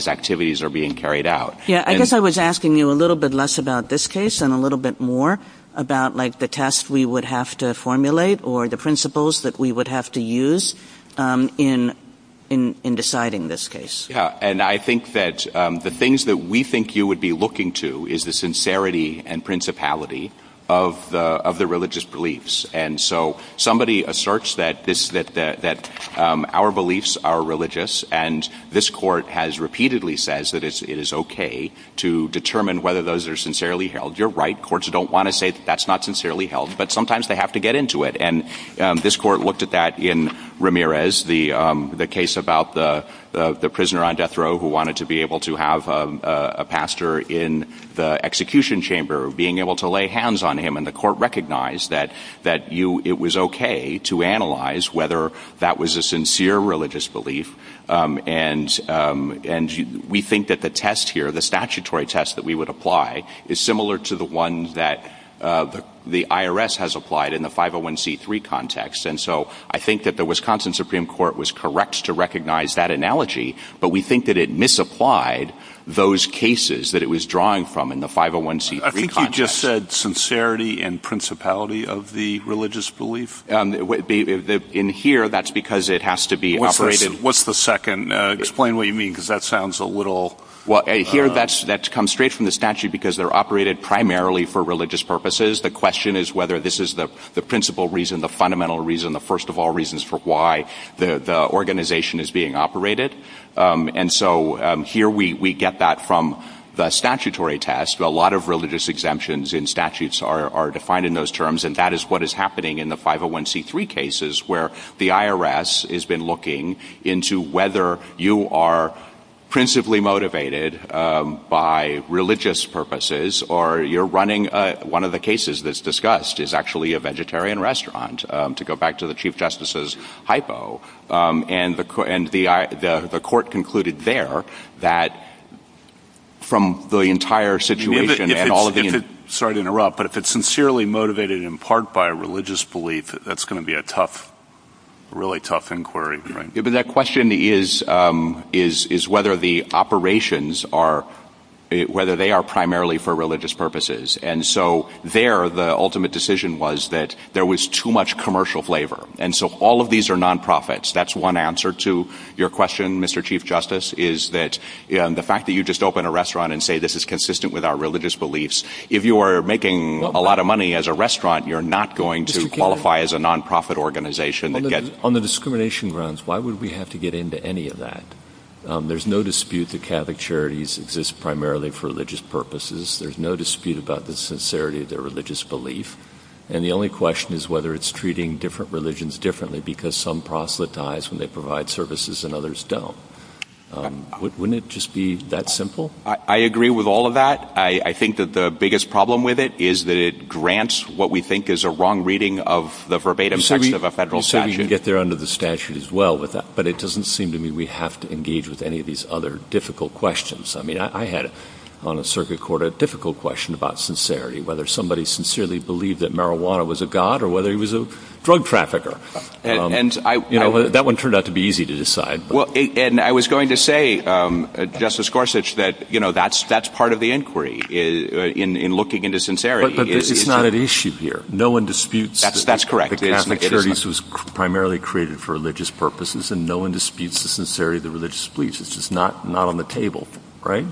activities are being carried out. Yeah, I guess I was asking you a little bit less about this case and a little bit more about, like, the test we would have to formulate or the principles that we would have to use in deciding this case. Yeah, and I think that the things that we think you would be looking to is the sincerity and principality of the religious beliefs. And so somebody asserts that our beliefs are religious, and this court has repeatedly said that it is okay to determine whether those are sincerely held. You're right, courts don't want to say that that's not sincerely held, but sometimes they have to get into it. And this court looked at that in Ramirez, the case about the prisoner on death row who wanted to be able to have a pastor in the execution chamber, being able to lay hands on him. And the court recognized that it was okay to analyze whether that was a sincere religious belief. And we think that the test here, the statutory test that we would apply, is similar to the one that the IRS has applied in the 501c3 context. And so I think that the Wisconsin Supreme Court was correct to recognize that analogy, but we think that it misapplied those cases that it was drawing from in the 501c3 context. You just said sincerity and principality of the religious belief? In here, that's because it has to be operated... What's the second? Explain what you mean, because that sounds a little... Well, here that comes straight from the statute because they're operated primarily for religious purposes. The question is whether this is the principal reason, the fundamental reason, the first of all reasons for why the organization is being operated. And so here we get that from the statutory test. A lot of religious exemptions in statutes are defined in those terms, and that is what is happening in the 501c3 cases where the IRS has been looking into whether you are principally motivated by religious purposes or you're running one of the cases that's discussed is actually a vegetarian restaurant, to go back to the Chief Justice's hypo. And the court concluded there that from the entire situation and all of the... Sorry to interrupt, but if it's sincerely motivated in part by a religious belief, that's going to be a tough, really tough inquiry. That question is whether the operations are, whether they are primarily for religious purposes. And so there the ultimate decision was that there was too much commercial flavor. And so all of these are non-profits. That's one answer to your question, Mr. Chief Justice, is that the fact that you just opened a restaurant and say this is consistent with our religious beliefs, if you are making a lot of money as a restaurant, you're not going to qualify as a non-profit organization. On the discrimination grounds, why would we have to get into any of that? There's no dispute that Catholic charities exist primarily for religious purposes. There's no dispute about the sincerity of their religious belief. And the only question is whether it's treating different religions differently because some proselytize when they provide services and others don't. Wouldn't it just be that simple? I agree with all of that. I think that the biggest problem with it is that it grants what we think is a wrong reading of the verbatim statute of a federal statute. Maybe you can get there under the statute as well with that. But it doesn't seem to me we have to engage with any of these other difficult questions. I mean, I had on a circuit court a difficult question about sincerity, whether somebody sincerely believed that marijuana was a god or whether he was a drug trafficker. That one turned out to be easy to decide. And I was going to say, Justice Gorsuch, that that's part of the inquiry in looking into sincerity. But it's not an issue here. No one disputes that Catholic charities was primarily created for religious purposes, and no one disputes the sincerity of their religious beliefs. It's just not on the table, right?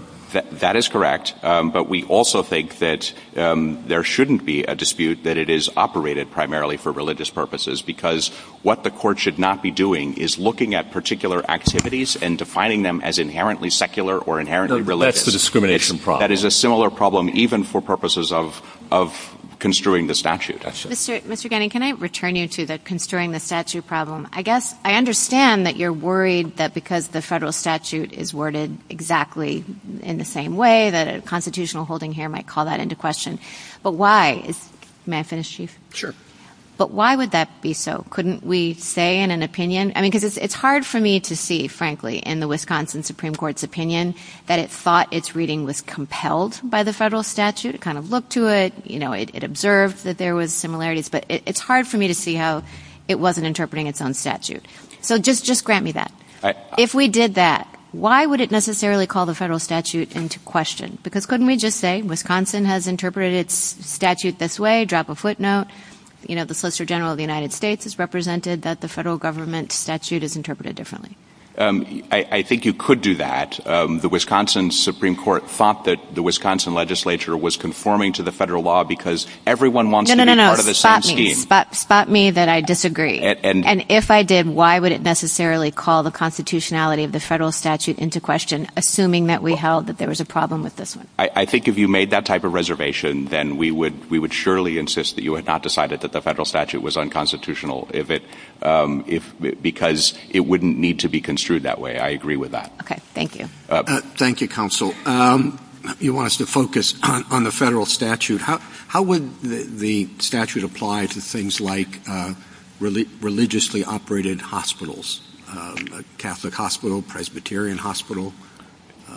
That is correct. But we also think that there shouldn't be a dispute that it is operated primarily for religious purposes, because what the court should not be doing is looking at particular activities and defining them as inherently secular or inherently religious. That's the discrimination problem. That is a similar problem even for purposes of construing the statute. Mr. Gannon, can I return you to the construing the statute problem? I guess I understand that you're worried that because the federal statute is worded exactly in the same way, that a constitutional holding here might call that into question. But why? May I finish, Chief? Sure. But why would that be so? Couldn't we say in an opinion? I mean, because it's hard for me to see, frankly, in the Wisconsin Supreme Court's opinion, that it thought its reading was compelled by the federal statute. It kind of looked to it. You know, it observed that there was similarities. But it's hard for me to see how it wasn't interpreting its own statute. So just grant me that. If we did that, why would it necessarily call the federal statute into question? Because couldn't we just say Wisconsin has interpreted its statute this way, drop a footnote. You know, the Solicitor General of the United States has represented that the federal government statute is interpreted differently. I think you could do that. The Wisconsin Supreme Court thought that the Wisconsin legislature was conforming to the federal law because everyone wants to be part of the same team. Spot me that I disagree. And if I did, why would it necessarily call the constitutionality of the federal statute into question, assuming that we held that there was a problem with this one? I think if you made that type of reservation, then we would surely insist that you had not decided that the federal statute was unconstitutional, because it wouldn't need to be construed that way. I agree with that. Okay. Thank you. Thank you, Counsel. You want us to focus on the federal statute. How would the statute apply to things like religiously operated hospitals, Catholic hospital, Presbyterian hospital?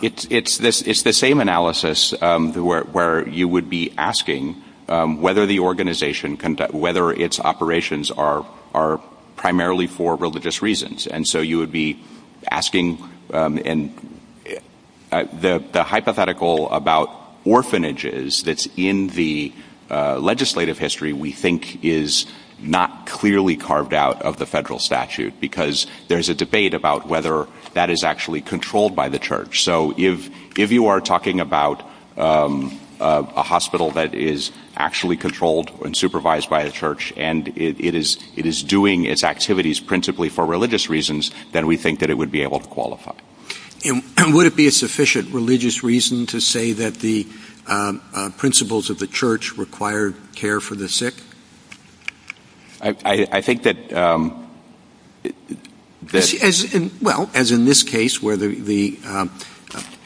It's the same analysis where you would be asking whether the organization, whether its operations are primarily for religious reasons. And so you would be asking the hypothetical about orphanages that's in the legislative history, we think is not clearly carved out of the federal statute, because there's a debate about whether that is actually controlled by the church. So if you are talking about a hospital that is actually controlled and supervised by a church, and it is doing its activities principally for religious reasons, then we think that it would be able to qualify. And would it be a sufficient religious reason to say that the principles of the church require care for the sick? I think that... Well, as in this case, where the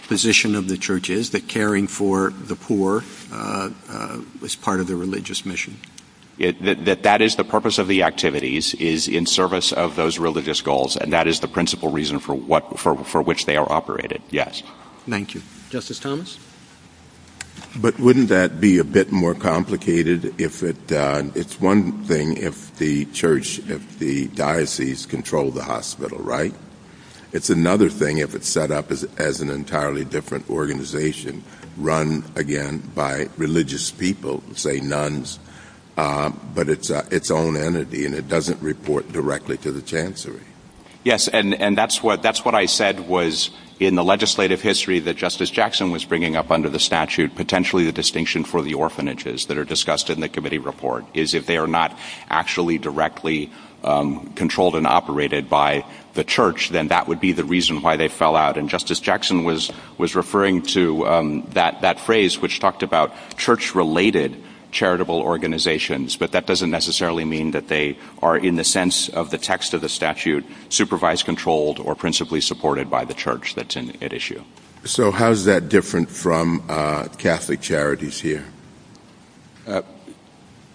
position of the church is, that caring for the poor is part of the religious mission. That that is the purpose of the activities is in service of those religious goals, and that is the principal reason for which they are operated. Thank you. Justice Thomas? But wouldn't that be a bit more complicated if it... It's one thing if the church, if the diocese control the hospital, right? It's another thing if it's set up as an entirely different organization, run, again, by religious people, say nuns, but it's its own entity, and it doesn't report directly to the chancery. Yes, and that's what I said was in the legislative history that Justice Jackson was bringing up under the statute, potentially the distinction for the orphanages that are discussed in the committee report, is if they are not actually directly controlled and operated by the church, then that would be the reason why they fell out, and Justice Jackson was referring to that phrase which talked about church-related charitable organizations, but that doesn't necessarily mean that they are, in the sense of the text of the statute, supervised, controlled, or principally supported by the church that's at issue. So how is that different from Catholic charities here?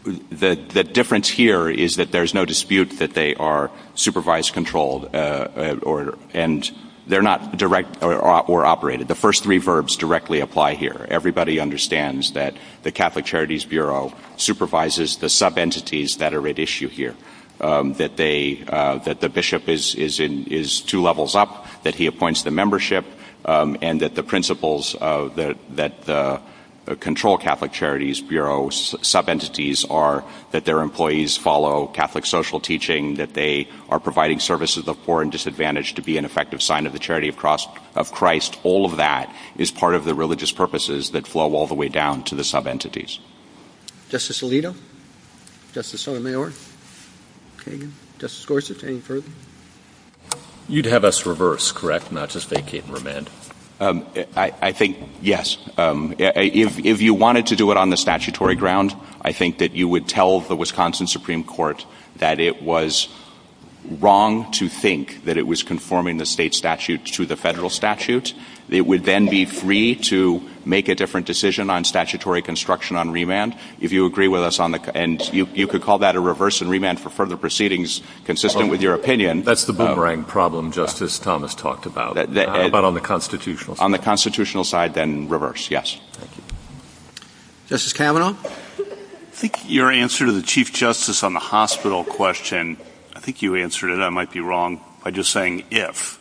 The difference here is that there's no dispute that they are supervised, controlled, and they're not direct or operated. The first three verbs directly apply here. Everybody understands that the Catholic Charities Bureau supervises the sub-entities that are at issue here, that the bishop is two levels up, that he appoints the membership, and that the principles that control Catholic Charities Bureau sub-entities are that their employees follow Catholic social teaching, that they are providing services of poor and disadvantaged to be an effective sign of the charity of Christ. All of that is part of the religious purposes that flow all the way down to the sub-entities. Justice Alito? Justice Sotomayor? Justice Gorsuch, any further? You'd have us reverse, correct? Not just vacate and remand? I think, yes. If you wanted to do it on the statutory ground, I think that you would tell the Wisconsin Supreme Court that it was wrong to think that it was conforming the state statute to the federal statute. It would then be free to make a different decision on statutory construction on remand. And you could call that a reverse and remand for further proceedings consistent with your opinion. That's the boomerang problem Justice Thomas talked about, but on the constitutional side. On the constitutional side, then reverse, yes. Justice Kavanaugh? I think your answer to the Chief Justice on the hospital question, I think you answered it, I might be wrong, by just saying if,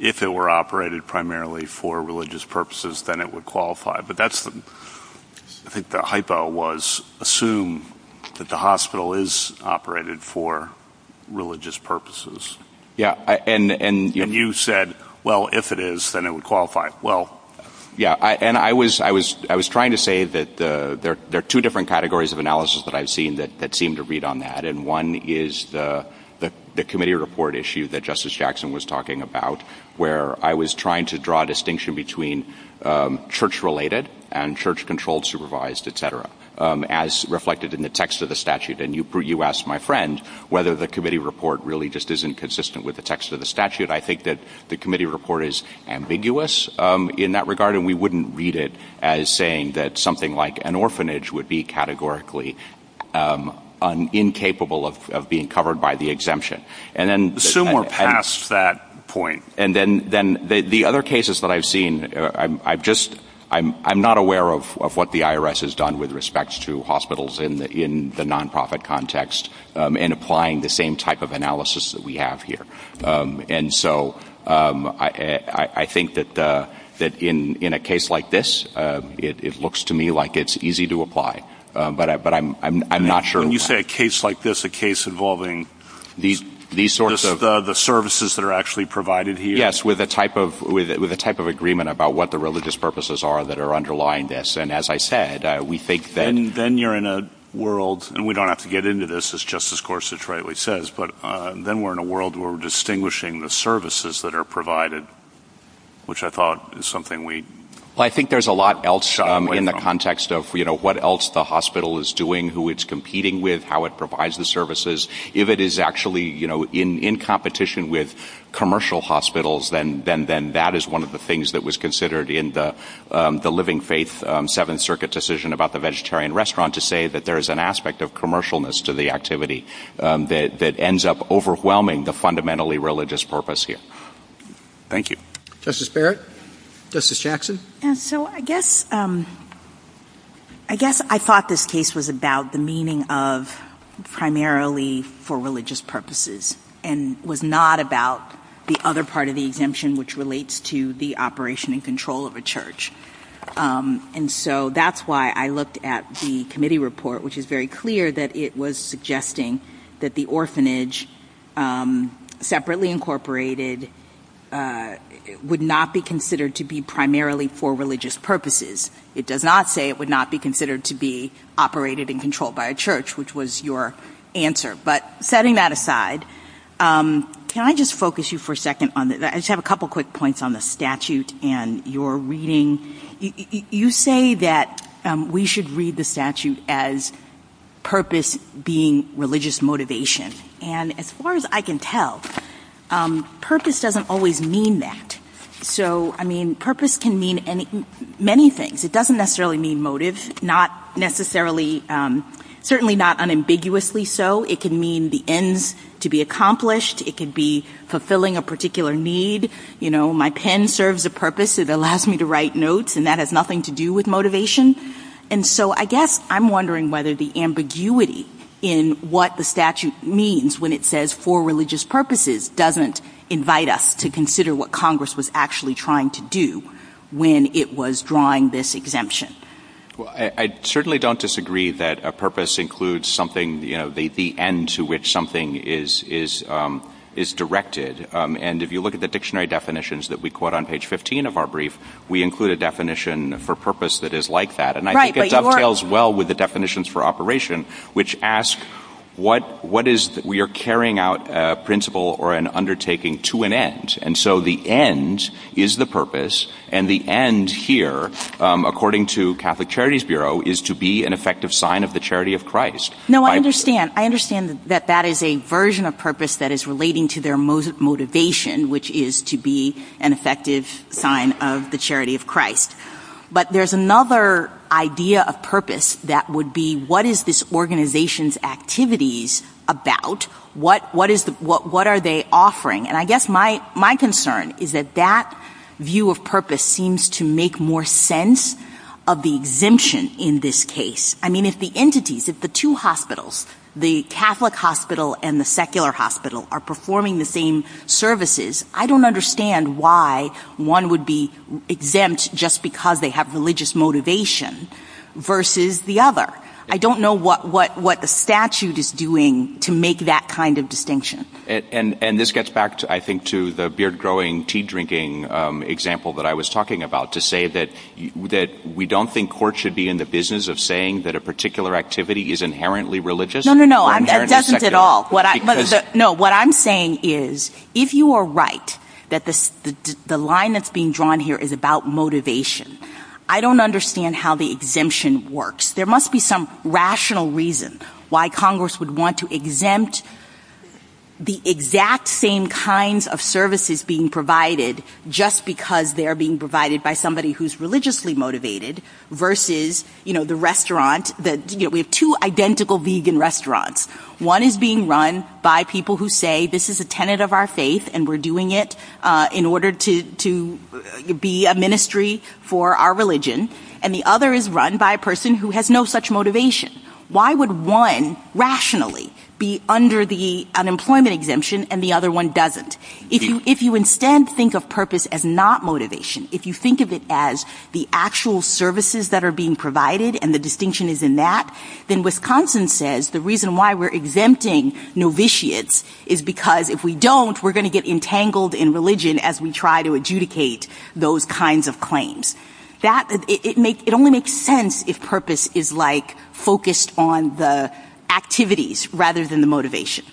if it were operated primarily for religious purposes, then it would qualify. But that's the, I think the hypo was assume that the hospital is operated for religious purposes. Yeah, and you said, well, if it is, then it would qualify. Well, yeah, and I was trying to say that there are two different categories of analysis that I've seen that seem to read on that. And one is the committee report issue that Justice Jackson was talking about, where I was trying to draw a distinction between church-related and church-controlled, supervised, et cetera, as reflected in the text of the statute. And you asked my friend whether the committee report really just isn't consistent with the text of the statute. I think that the committee report is ambiguous in that regard, and we wouldn't read it as saying that something like an orphanage would be categorically incapable of being covered by the exemption. Assume we're past that point. And then the other cases that I've seen, I'm not aware of what the IRS has done with respect to hospitals in the nonprofit context in applying the same type of analysis that we have here. And so I think that in a case like this, it looks to me like it's easy to apply, but I'm not sure. So when you say a case like this, a case involving the services that are actually provided here? Yes, with a type of agreement about what the religious purposes are that are underlying this. And as I said, we think that... Then you're in a world, and we don't have to get into this, as Justice Gorsuch rightly says, but then we're in a world where we're distinguishing the services that are provided, which I thought is something we... Well, I think there's a lot else in the context of, you know, what else the hospital is doing, who it's competing with, how it provides the services. If it is actually, you know, in competition with commercial hospitals, then that is one of the things that was considered in the Living Faith Seventh Circuit decision about the vegetarian restaurant to say that there is an aspect of commercialness to the activity that ends up overwhelming the fundamentally religious purpose here. Thank you. Justice Barrett? Justice Jackson? And so I guess... I guess I thought this case was about the meaning of primarily for religious purposes and was not about the other part of the exemption, which relates to the operation and control of a church. And so that's why I looked at the committee report, which is very clear that it was suggesting that the orphanage, separately incorporated, would not be considered to be primarily for religious purposes. It does not say it would not be considered to be operated and controlled by a church, which was your answer. But setting that aside, can I just focus you for a second on... I just have a couple quick points on the statute and your reading. You say that we should read the statute as purpose being religious motivation. And as far as I can tell, purpose doesn't always mean that. So, I mean, purpose can mean many things. It doesn't necessarily mean motive, certainly not unambiguously so. It can mean the ends to be accomplished. It can be fulfilling a particular need. You know, my pen serves a purpose. It allows me to write notes, and that has nothing to do with motivation. And so I guess I'm wondering whether the ambiguity in what the statute means when it says for religious purposes doesn't invite us to consider what Congress was actually trying to do when it was drawing this exemption. Well, I certainly don't disagree that a purpose includes something, you know, the end to which something is directed. And if you look at the dictionary definitions that we quote on page 15 of our brief, we include a definition for purpose that is like that. And I think it dovetails well with the definitions for operation, which ask what is we are carrying out a principle or an undertaking to an end. And so the end is the purpose, and the end here, according to Catholic Charities Bureau, is to be an effective sign of the charity of Christ. No, I understand. I understand that that is a version of purpose that is relating to their motivation, which is to be an effective sign of the charity of Christ. But there's another idea of purpose that would be what is this organization's activities about? What are they offering? And I guess my concern is that that view of purpose seems to make more sense of the exemption in this case. I mean, if the entities, if the two hospitals, the Catholic hospital and the secular hospital, are performing the same services, I don't understand why one would be exempt just because they have religious motivation versus the other. I don't know what the statute is doing to make that kind of distinction. And this gets back, I think, to the beard-growing, tea-drinking example that I was talking about, to say that we don't think court should be in the business of saying that a particular activity is inherently religious. No, no, no. It doesn't at all. No, what I'm saying is if you are right that the line that's being drawn here is about motivation, I don't understand how the exemption works. There must be some rational reason why Congress would want to exempt the exact same kinds of services being provided just because they're being provided by somebody who's religiously motivated versus the restaurant. We have two identical vegan restaurants. One is being run by people who say this is a tenet of our faith and we're doing it in order to be a ministry for our religion, and the other is run by a person who has no such motivation. Why would one rationally be under the unemployment exemption and the other one doesn't? If you instead think of purpose as not motivation, if you think of it as the actual services that are being provided and the distinction is in that, then Wisconsin says the reason why we're exempting novitiates is because if we don't, we're going to get entangled in religion as we try to adjudicate those kinds of claims. It only makes sense if purpose is focused on the activities rather than the motivation.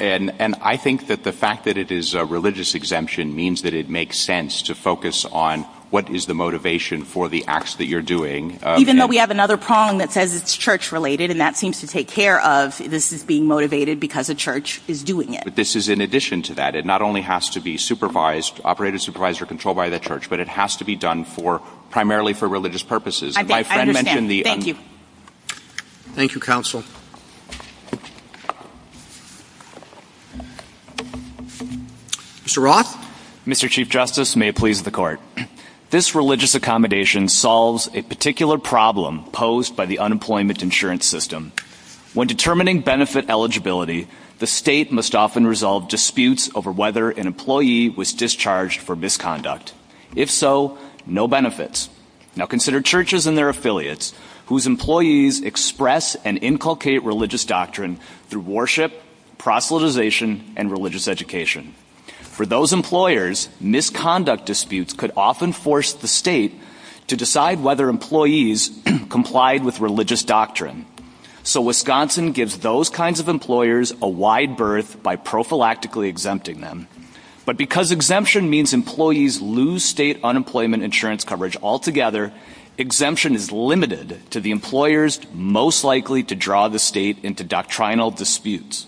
And I think that the fact that it is a religious exemption means that it makes sense to focus on what is the motivation for the acts that you're doing. Even though we have another prong that says it's church-related, and that seems to take care of this is being motivated because a church is doing it. But this is in addition to that. It not only has to be supervised, operated, supervised, or controlled by the church, but it has to be done primarily for religious purposes. I understand. Thank you. Thank you, Counsel. Mr. Roth? Mr. Chief Justice, may it please the Court. This religious accommodation solves a particular problem posed by the unemployment insurance system. When determining benefit eligibility, the state must often resolve disputes over whether an employee was discharged for misconduct. If so, no benefits. Now consider churches and their affiliates whose employees express and inculcate religious doctrine through worship, proselytization, and religious education. For those employers, misconduct disputes could often force the state to decide whether employees complied with religious doctrine. So Wisconsin gives those kinds of employers a wide berth by prophylactically exempting them. But because exemption means employees lose state unemployment insurance coverage altogether, exemption is limited to the employers most likely to draw the state into doctrinal disputes.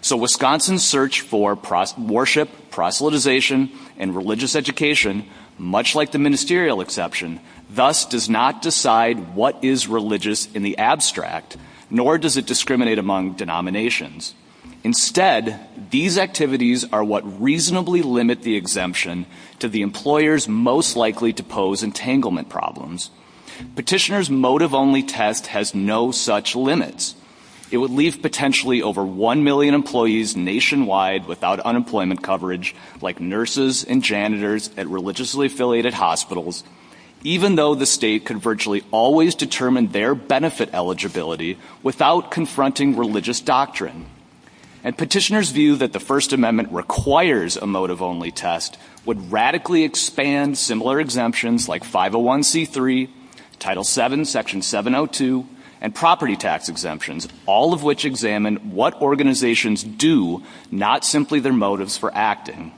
So Wisconsin's search for worship, proselytization, and religious education, much like the ministerial exception, thus does not decide what is religious in the abstract, nor does it discriminate among denominations. Instead, these activities are what reasonably limit the exemption to the employers most likely to pose entanglement problems. Petitioner's motive-only test has no such limits. It would leave potentially over one million employees nationwide without unemployment coverage, like nurses and janitors at religiously affiliated hospitals, even though the state could virtually always determine their benefit eligibility without confronting religious doctrine. And petitioner's view that the First Amendment requires a motive-only test would radically expand similar exemptions like 501c3, Title VII, Section 702, and property tax exemptions, all of which examine what organizations do, not simply their motives for acting.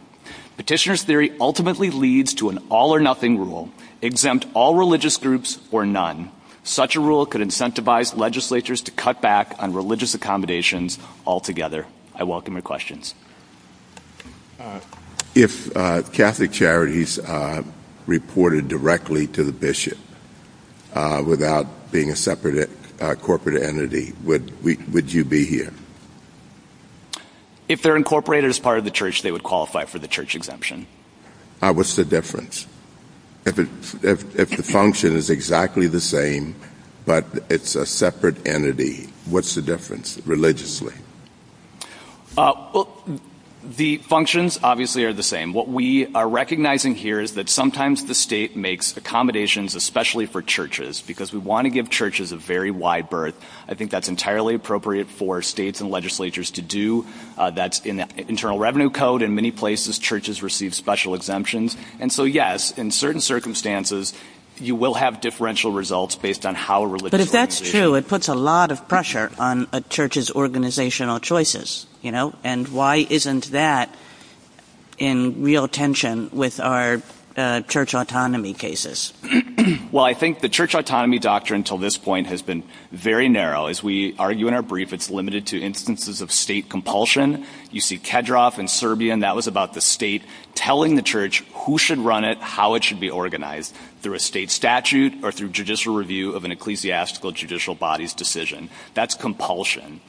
Petitioner's theory ultimately leads to an all-or-nothing rule, exempt all religious groups or none. Such a rule could incentivize legislatures to cut back on religious accommodations altogether. I welcome your questions. If Catholic charities reported directly to the bishop without being a separate corporate entity, would you be here? If they're incorporated as part of the church, they would qualify for the church exemption. What's the difference? If the function is exactly the same, but it's a separate entity, what's the difference, religiously? The functions, obviously, are the same. What we are recognizing here is that sometimes the state makes accommodations, especially for churches, because we want to give churches a very wide berth. I think that's entirely appropriate for states and legislatures to do. That's in the Internal Revenue Code. In many places, churches receive special exemptions. Yes, in certain circumstances, you will have differential results based on how religious organizations... But if that's true, it puts a lot of pressure on a church's organizational choices. Why isn't that in real tension with our church autonomy cases? I think the church autonomy doctrine until this point has been very narrow. As we argue in our brief, it's limited to instances of state compulsion. You see Kedroff in Serbia, and that was about the state telling the church who should run it, how it should be organized, through a state statute or through judicial review of an ecclesiastical judicial body's decision. That's compulsion.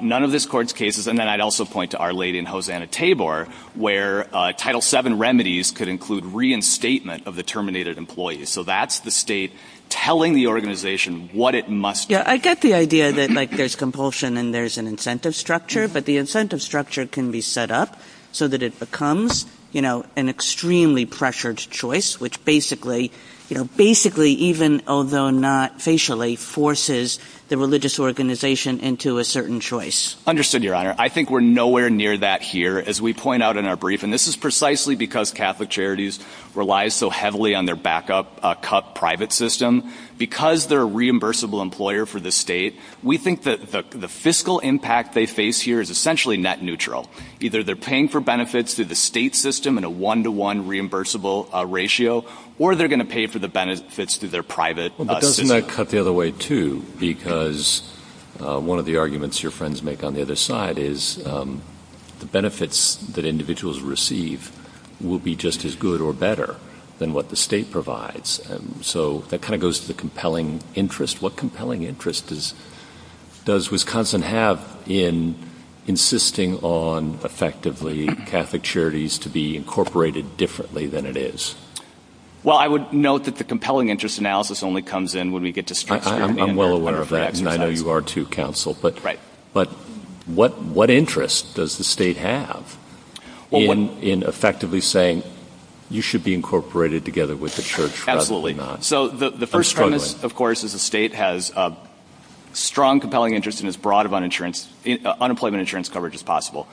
None of this court's cases, and then I'd also point to Our Lady in Hosanna-Tabor, where Title VII remedies could include reinstatement of the terminated employee. That's the state telling the organization what it must do. I get the idea that there's compulsion and there's an incentive structure, but the incentive structure can be set up so that it becomes an extremely pressured choice, which basically, even although not facially, forces the religious organization into a certain choice. Understood, Your Honor. I think we're nowhere near that here, as we point out in our brief, and this is precisely because Catholic Charities relies so heavily on their backup cup private system. Because they're a reimbursable employer for the state, we think that the fiscal impact they face here is essentially net neutral. Either they're paying for benefits through the state system in a one-to-one reimbursable ratio, or they're going to pay for the benefits through their private system. But doesn't that cut the other way, too? Because one of the arguments your friends make on the other side is the benefits that individuals receive will be just as good or better than what the state provides. So that kind of goes to the compelling interest. What compelling interest does Wisconsin have in insisting on, effectively, Catholic Charities to be incorporated differently than it is? Well, I would note that the compelling interest analysis only comes in when we get to structure. I'm well aware of that, and I know you are, too, counsel. But what interest does the state have in effectively saying, You should be incorporated together with the church. Absolutely not. So the first premise, of course, is the state has a strong compelling interest in as broad of unemployment insurance coverage as possible.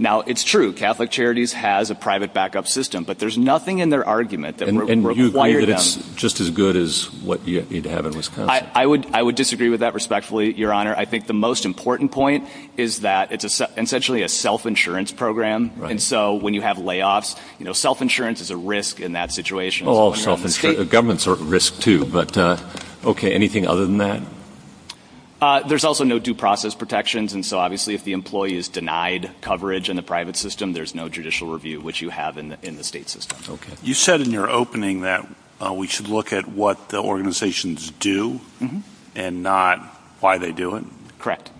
Now, it's true, Catholic Charities has a private backup system, but there's nothing in their argument that requires them. And you think it's just as good as what you need to have in Wisconsin? I would disagree with that, respectfully, Your Honor. I think the most important point is that it's essentially a self-insurance program. And so when you have layoffs, self-insurance is a risk in that situation. Oh, self-insurance. Governments are at risk, too. But, okay, anything other than that? There's also no due process protections. And so, obviously, if the employee is denied coverage in the private system, there's no judicial review, which you have in the state system. You said in your opening that we should look at what the organizations do and not why they do it. Correct.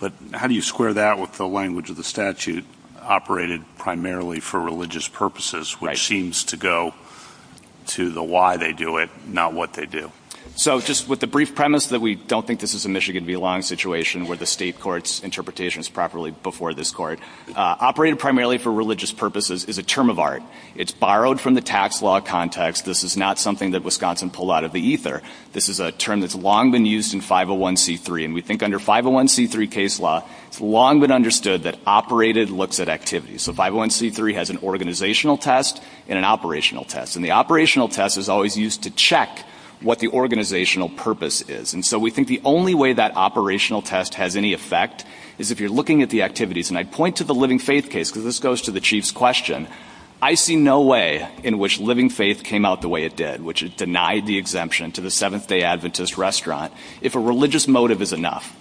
But how do you square that with the language of the statute, operated primarily for religious purposes, which seems to go to the why they do it, not what they do? So just with the brief premise that we don't think this is a Michigan v. Long situation where the state court's interpretation is properly before this court, operated primarily for religious purposes is a term of art. It's borrowed from the tax law context. This is not something that Wisconsin pulled out of the ether. This is a term that's long been used in 501c3. And we think under 501c3 case law, it's long been understood that operated looks at activity. So 501c3 has an organizational test and an operational test. And the operational test is always used to check what the organizational purpose is. And so we think the only way that operational test has any effect is if you're looking at the activities. And I point to the living faith case because this goes to the chief's question. I see no way in which living faith came out the way it did, which is deny the exemption to the Seventh-Day Adventist restaurant, if a religious motive is enough.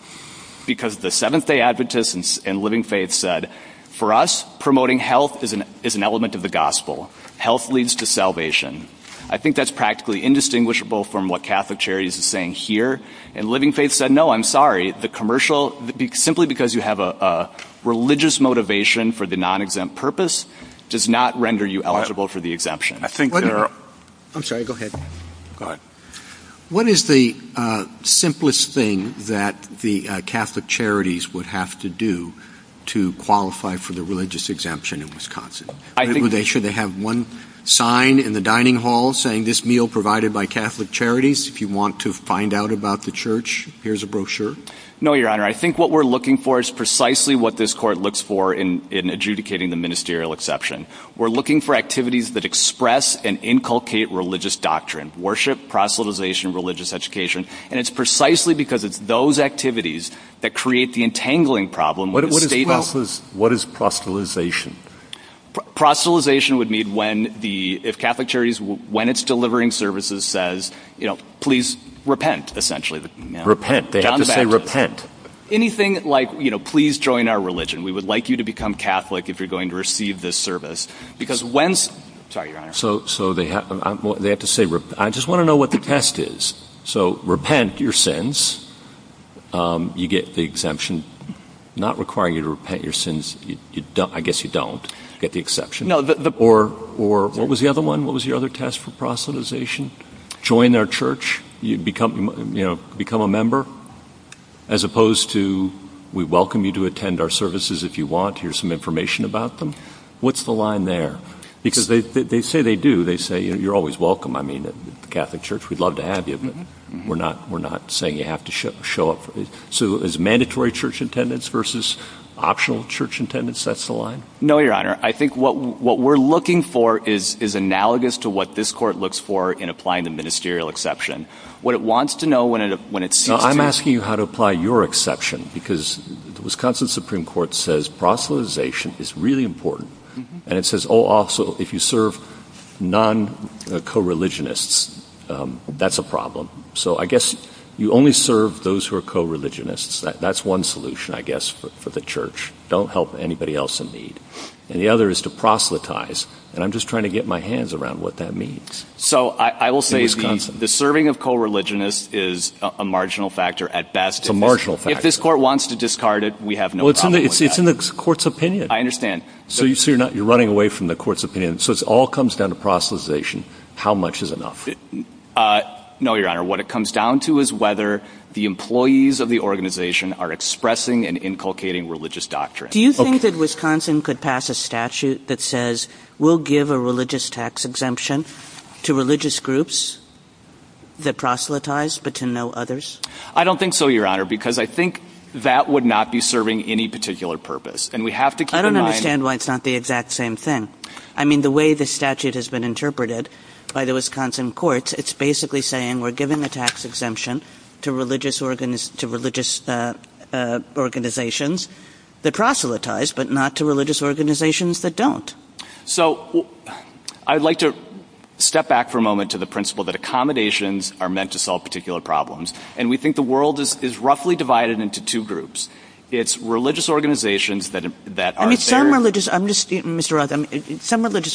Because the Seventh-Day Adventists and living faith said, for us, promoting health is an element of the gospel. Health leads to salvation. I think that's practically indistinguishable from what Catholic Charities is saying here. And living faith said, no, I'm sorry. The commercial, simply because you have a religious motivation for the non-exempt purpose, does not render you eligible for the exemption. I'm sorry, go ahead. Go ahead. What is the simplest thing that the Catholic Charities would have to do to qualify for the religious exemption in Wisconsin? Should they have one sign in the dining hall saying, this meal provided by Catholic Charities, if you want to find out about the church, here's a brochure? No, Your Honor. I think what we're looking for is precisely what this court looks for in adjudicating the ministerial exception. We're looking for activities that express and inculcate religious doctrine. Worship, proselytization, religious education. And it's precisely because it's those activities that create the entangling problem. What is proselytization? Proselytization would mean when the Catholic Charities, when it's delivering services, says, you know, please repent, essentially. Repent. They have to say repent. Anything like, you know, please join our religion. We would like you to become Catholic if you're going to receive this service. Sorry, Your Honor. So they have to say repent. I just want to know what the test is. So repent your sins. You get the exemption not requiring you to repent your sins. I guess you don't get the exception. Or what was the other one? What was the other test for proselytization? Join our church. Become a member. As opposed to we welcome you to attend our services if you want. Here's some information about them. What's the line there? Because they say they do. They say, you know, you're always welcome. I mean, Catholic Church, we'd love to have you. We're not saying you have to show up. So is mandatory church attendance versus optional church attendance? That's the line? No, Your Honor. I think what we're looking for is analogous to what this court looks for in applying the ministerial exception. What it wants to know when it sees you. I'm asking you how to apply your exception. Because the Wisconsin Supreme Court says proselytization is really important. And it says, oh, also, if you serve non-coreligionists, that's a problem. So I guess you only serve those who are coreligionists. That's one solution, I guess, for the church. Don't help anybody else in need. And the other is to proselytize. And I'm just trying to get my hands around what that means. So I will say the serving of coreligionists is a marginal factor at best. A marginal factor. If this court wants to discard it, we have no problem with that. Well, it's in the court's opinion. I understand. So you're running away from the court's opinion. So it all comes down to proselytization. How much is enough? No, Your Honor. What it comes down to is whether the employees of the organization are expressing and inculcating religious doctrine. Do you think that Wisconsin could pass a statute that says we'll give a religious tax exemption to religious groups that proselytize but to no others? I don't think so, Your Honor, because I think that would not be serving any particular purpose. I don't understand why it's not the exact same thing. I mean, the way the statute has been interpreted by the Wisconsin courts, it's basically saying we're giving the tax exemption to religious organizations that proselytize but not to religious organizations that don't. So I'd like to step back for a moment to the principle that accommodations are meant to solve particular problems. And we think the world is roughly divided into two groups. It's religious organizations that are there. Some religious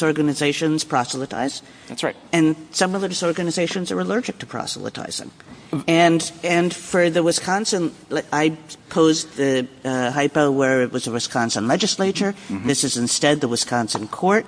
organizations proselytize. That's right. And some religious organizations are allergic to proselytizing. And for the Wisconsin, I posed the hypo where it was the Wisconsin legislature. This is instead the Wisconsin court.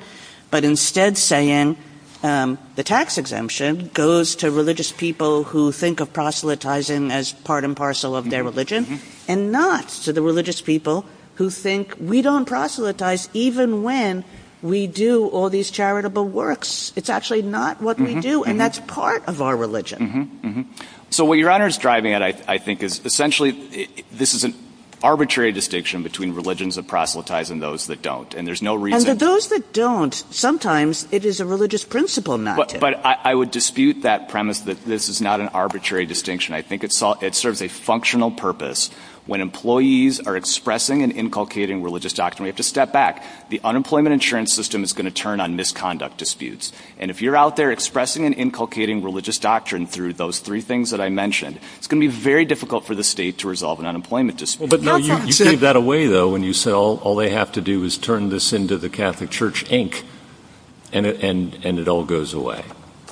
But instead saying the tax exemption goes to religious people who think of proselytizing as part and parcel of their religion and not to the religious people who think we don't proselytize even when we do all these charitable works. It's actually not what we do. And that's part of our religion. So what Your Honor is driving at, I think, is essentially this is an arbitrary distinction between religions that proselytize and those that don't. And there's no reason. And for those that don't, sometimes it is a religious principle not to. But I would dispute that premise that this is not an arbitrary distinction. I think it serves a functional purpose when employees are expressing and inculcating religious doctrine. We have to step back. The unemployment insurance system is going to turn on misconduct disputes. And if you're out there expressing and inculcating religious doctrine through those three things that I mentioned, it's going to be very difficult for the state to resolve an unemployment dispute. But you gave that away, though, when you said all they have to do is turn this into the Catholic Church Inc. And it all goes away.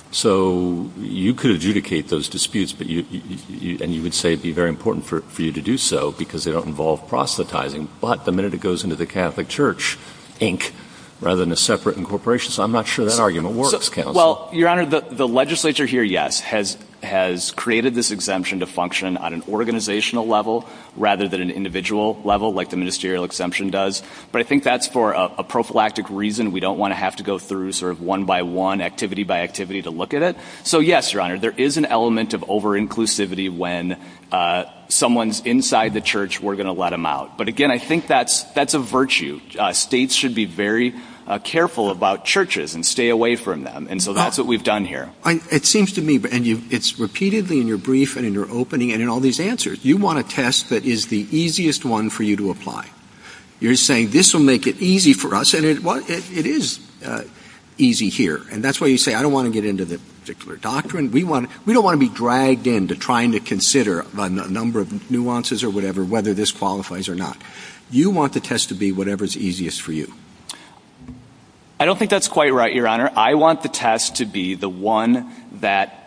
So you could adjudicate those disputes. And you would say it would be very important for you to do so because they don't involve proselytizing. But the minute it goes into the Catholic Church Inc. rather than a separate incorporation, so I'm not sure that argument works. Well, Your Honor, the legislature here, yes, has created this exemption to function on an organizational level rather than an individual level like the ministerial exemption does. But I think that's for a prophylactic reason. We don't want to have to go through sort of one-by-one, activity-by-activity to look at it. So, yes, Your Honor, there is an element of over-inclusivity when someone's inside the church, we're going to let them out. But, again, I think that's a virtue. States should be very careful about churches and stay away from them. And so that's what we've done here. It seems to me, and it's repeatedly in your brief and in your opening and in all these answers, you want a test that is the easiest one for you to apply. You're saying, this will make it easy for us. And it is easy here. And that's why you say, I don't want to get into the particular doctrine. We don't want to be dragged into trying to consider a number of nuances or whatever, whether this qualifies or not. You want the test to be whatever's easiest for you. I don't think that's quite right, Your Honor. I want the test to be the one that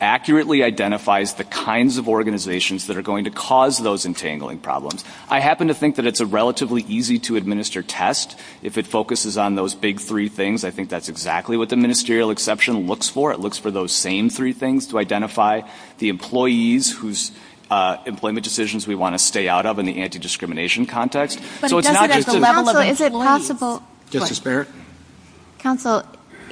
accurately identifies the kinds of organizations that are going to cause those entangling problems. I happen to think that it's a relatively easy-to-administer test if it focuses on those big three things. I think that's exactly what the ministerial exception looks for. It looks for those same three things to identify the employees whose employment decisions we want to stay out of in the anti-discrimination context. So it's not just the level of employees. Justice Barrett? Counsel,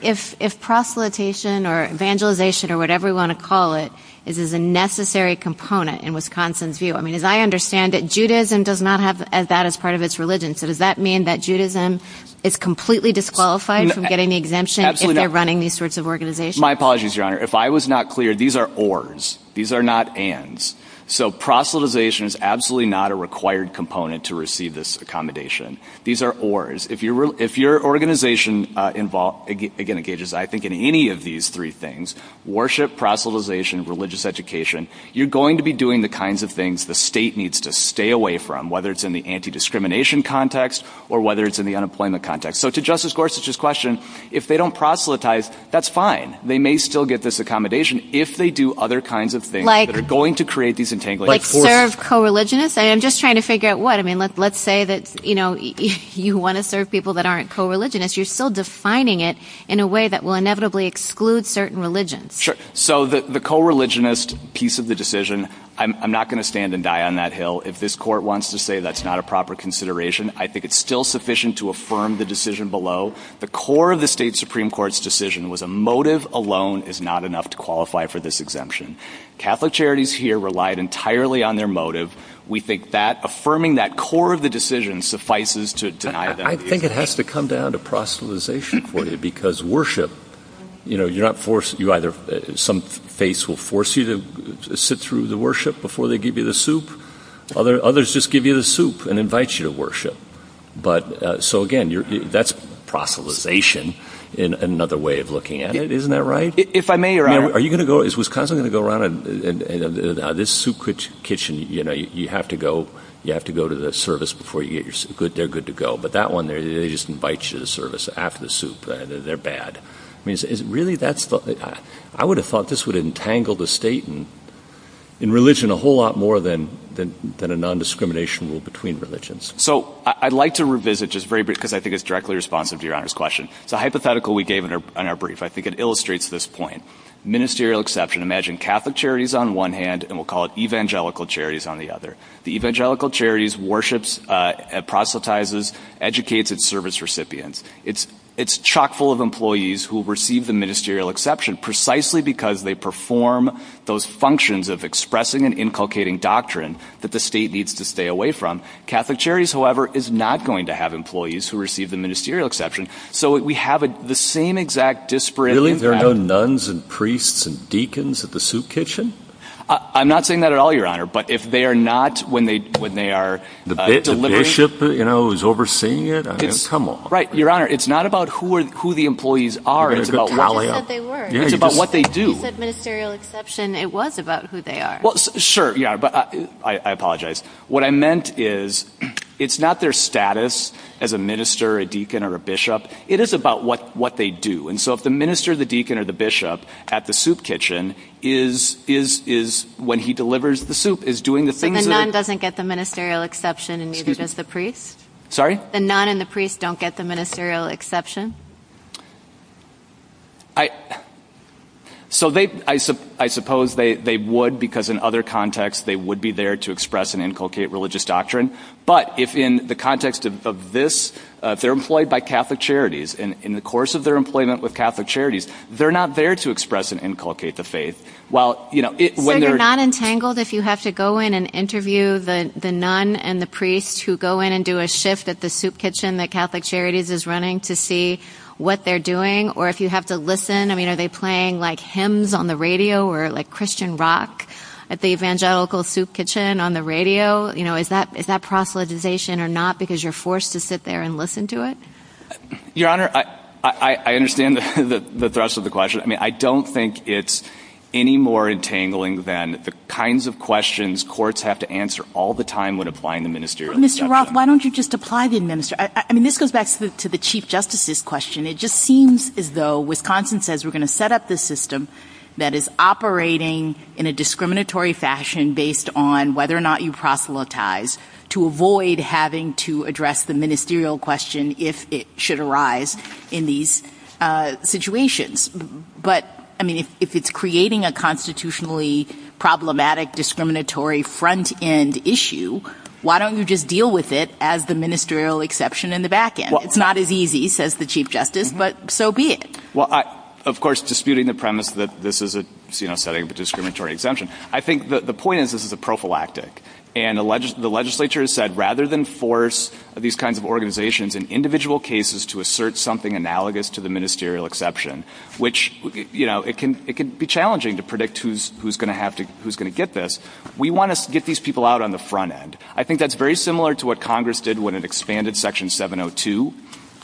if proselytization or evangelization or whatever you want to call it is a necessary component in Wisconsin's view, I mean, as I understand it, Judaism does not have that as part of its religion. So does that mean that Judaism is completely disqualified from getting the exemption if they're running these sorts of organizations? My apologies, Your Honor. If I was not clear, these are ORs. These are not ANDs. So proselytization is absolutely not a required component to receive this accommodation. These are ORs. If your organization engages, I think, in any of these three things, worship, proselytization, religious education, you're going to be doing the kinds of things the state needs to stay away from, whether it's in the anti-discrimination context or whether it's in the unemployment context. So to Justice Gorsuch's question, if they don't proselytize, that's fine. They may still get this accommodation if they do other kinds of things that are going to create these entanglements. Like serve co-religionists? I'm just trying to figure out what. I mean, let's say that you want to serve people that aren't co-religionists. You're still defining it in a way that will inevitably exclude certain religions. Sure. So the co-religionist piece of the decision, I'm not going to stand and die on that hill. If this court wants to say that's not a proper consideration, I think it's still sufficient to affirm the decision below. The core of the state Supreme Court's decision was a motive alone is not enough to qualify for this exemption. Catholic Charities here relied entirely on their motive. We think affirming that core of the decision suffices to deny them the exemption. I think it has to come down to proselytization for you because worship, you know, you're not forced. Some faiths will force you to sit through the worship before they give you the soup. Others just give you the soup and invite you to worship. So, again, that's proselytization in another way of looking at it. Isn't that right? If I may, Your Honor. Is Wisconsin going to go around and this soup kitchen, you know, you have to go to the service before you eat. They're good to go. But that one, they just invite you to the service after the soup. They're bad. Really, I would have thought this would entangle the state in religion a whole lot more than a nondiscrimination rule between religions. So I'd like to revisit just very briefly because I think it's directly responsive to Your Honor's question. The hypothetical we gave in our brief, I think it illustrates this point. Ministerial exception. Imagine Catholic Charities on one hand and we'll call it Evangelical Charities on the other. The Evangelical Charities worships, proselytizes, educates its service recipients. It's chock full of employees who receive the ministerial exception precisely because they perform those functions of expressing and inculcating doctrine that the state needs to stay away from. Catholic Charities, however, is not going to have employees who receive the ministerial exception. So we have the same exact disparity. There are no nuns and priests and deacons at the soup kitchen? I'm not saying that at all, Your Honor. But if they are not when they are delivering. The bishop, you know, is overseeing it? Right, Your Honor. It's not about who the employees are. It's about how they work. It's about what they do. The ministerial exception, it was about who they are. Well, sure. Yeah. But I apologize. What I meant is it's not their status as a minister, a deacon, or a bishop. It is about what they do. And so if the minister, the deacon, or the bishop at the soup kitchen is when he delivers the soup, is doing the things. But the nun doesn't get the ministerial exception and neither does the priest? Sorry? The nun and the priest don't get the ministerial exception? So I suppose they would because in other contexts they would be there to express and inculcate religious doctrine. But in the context of this, they're employed by Catholic charities. And in the course of their employment with Catholic charities, they're not there to express and inculcate the faith. So you're not entangled if you have to go in and interview the nun and the priest who go in and do a shift at the soup kitchen that Catholic Charities is running to see what they're doing? Or if you have to listen, I mean, are they playing like hymns on the radio or like Christian rock at the evangelical soup kitchen on the radio? You know, is that proselytization or not because you're forced to sit there and listen to it? Your Honor, I understand the thrust of the question. But I mean, I don't think it's any more entangling than the kinds of questions courts have to answer all the time when applying the ministerial exception. Mr. Roth, why don't you just apply the ministerial? I mean, this goes back to the Chief Justice's question. It just seems as though Wisconsin says we're going to set up the system that is operating in a discriminatory fashion based on whether or not you proselytize to avoid having to address the ministerial question if it should arise in these situations. But I mean, if it's creating a constitutionally problematic discriminatory front end issue, why don't you just deal with it as the ministerial exception in the back end? It's not as easy, says the Chief Justice, but so be it. Well, of course, disputing the premise that this is a setting of a discriminatory exemption. I think the point is this is a prophylactic. And the legislature has said rather than force these kinds of organizations in individual cases to assert something analogous to the ministerial exception, which it can be challenging to predict who's going to get this, we want to get these people out on the front end. I think that's very similar to what Congress did when it expanded Section 702.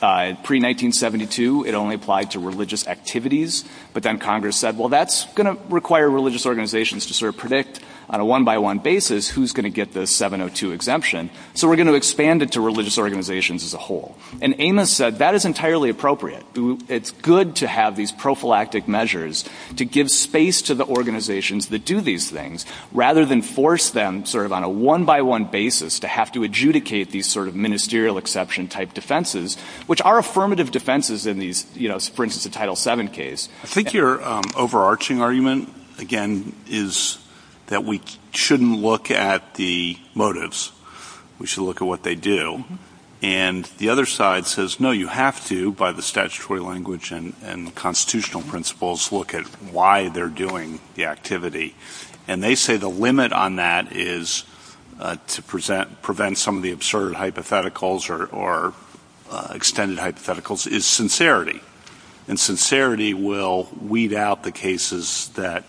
In pre-1972, it only applied to religious activities. But then Congress said, well, that's going to require religious organizations to sort of predict on a one-by-one basis who's going to get this 702 exemption. So we're going to expand it to religious organizations as a whole. And Amos said that is entirely appropriate. It's good to have these prophylactic measures to give space to the organizations that do these things, rather than force them sort of on a one-by-one basis to have to adjudicate these sort of ministerial exception type defenses, which are affirmative defenses in these, for instance, the Title VII case. I think your overarching argument, again, is that we shouldn't look at the motives. We should look at what they do. And the other side says, no, you have to, by the statutory language and constitutional principles, look at why they're doing the activity. And they say the limit on that is to prevent some of the absurd hypotheticals or extended hypotheticals is sincerity. And sincerity will weed out the cases that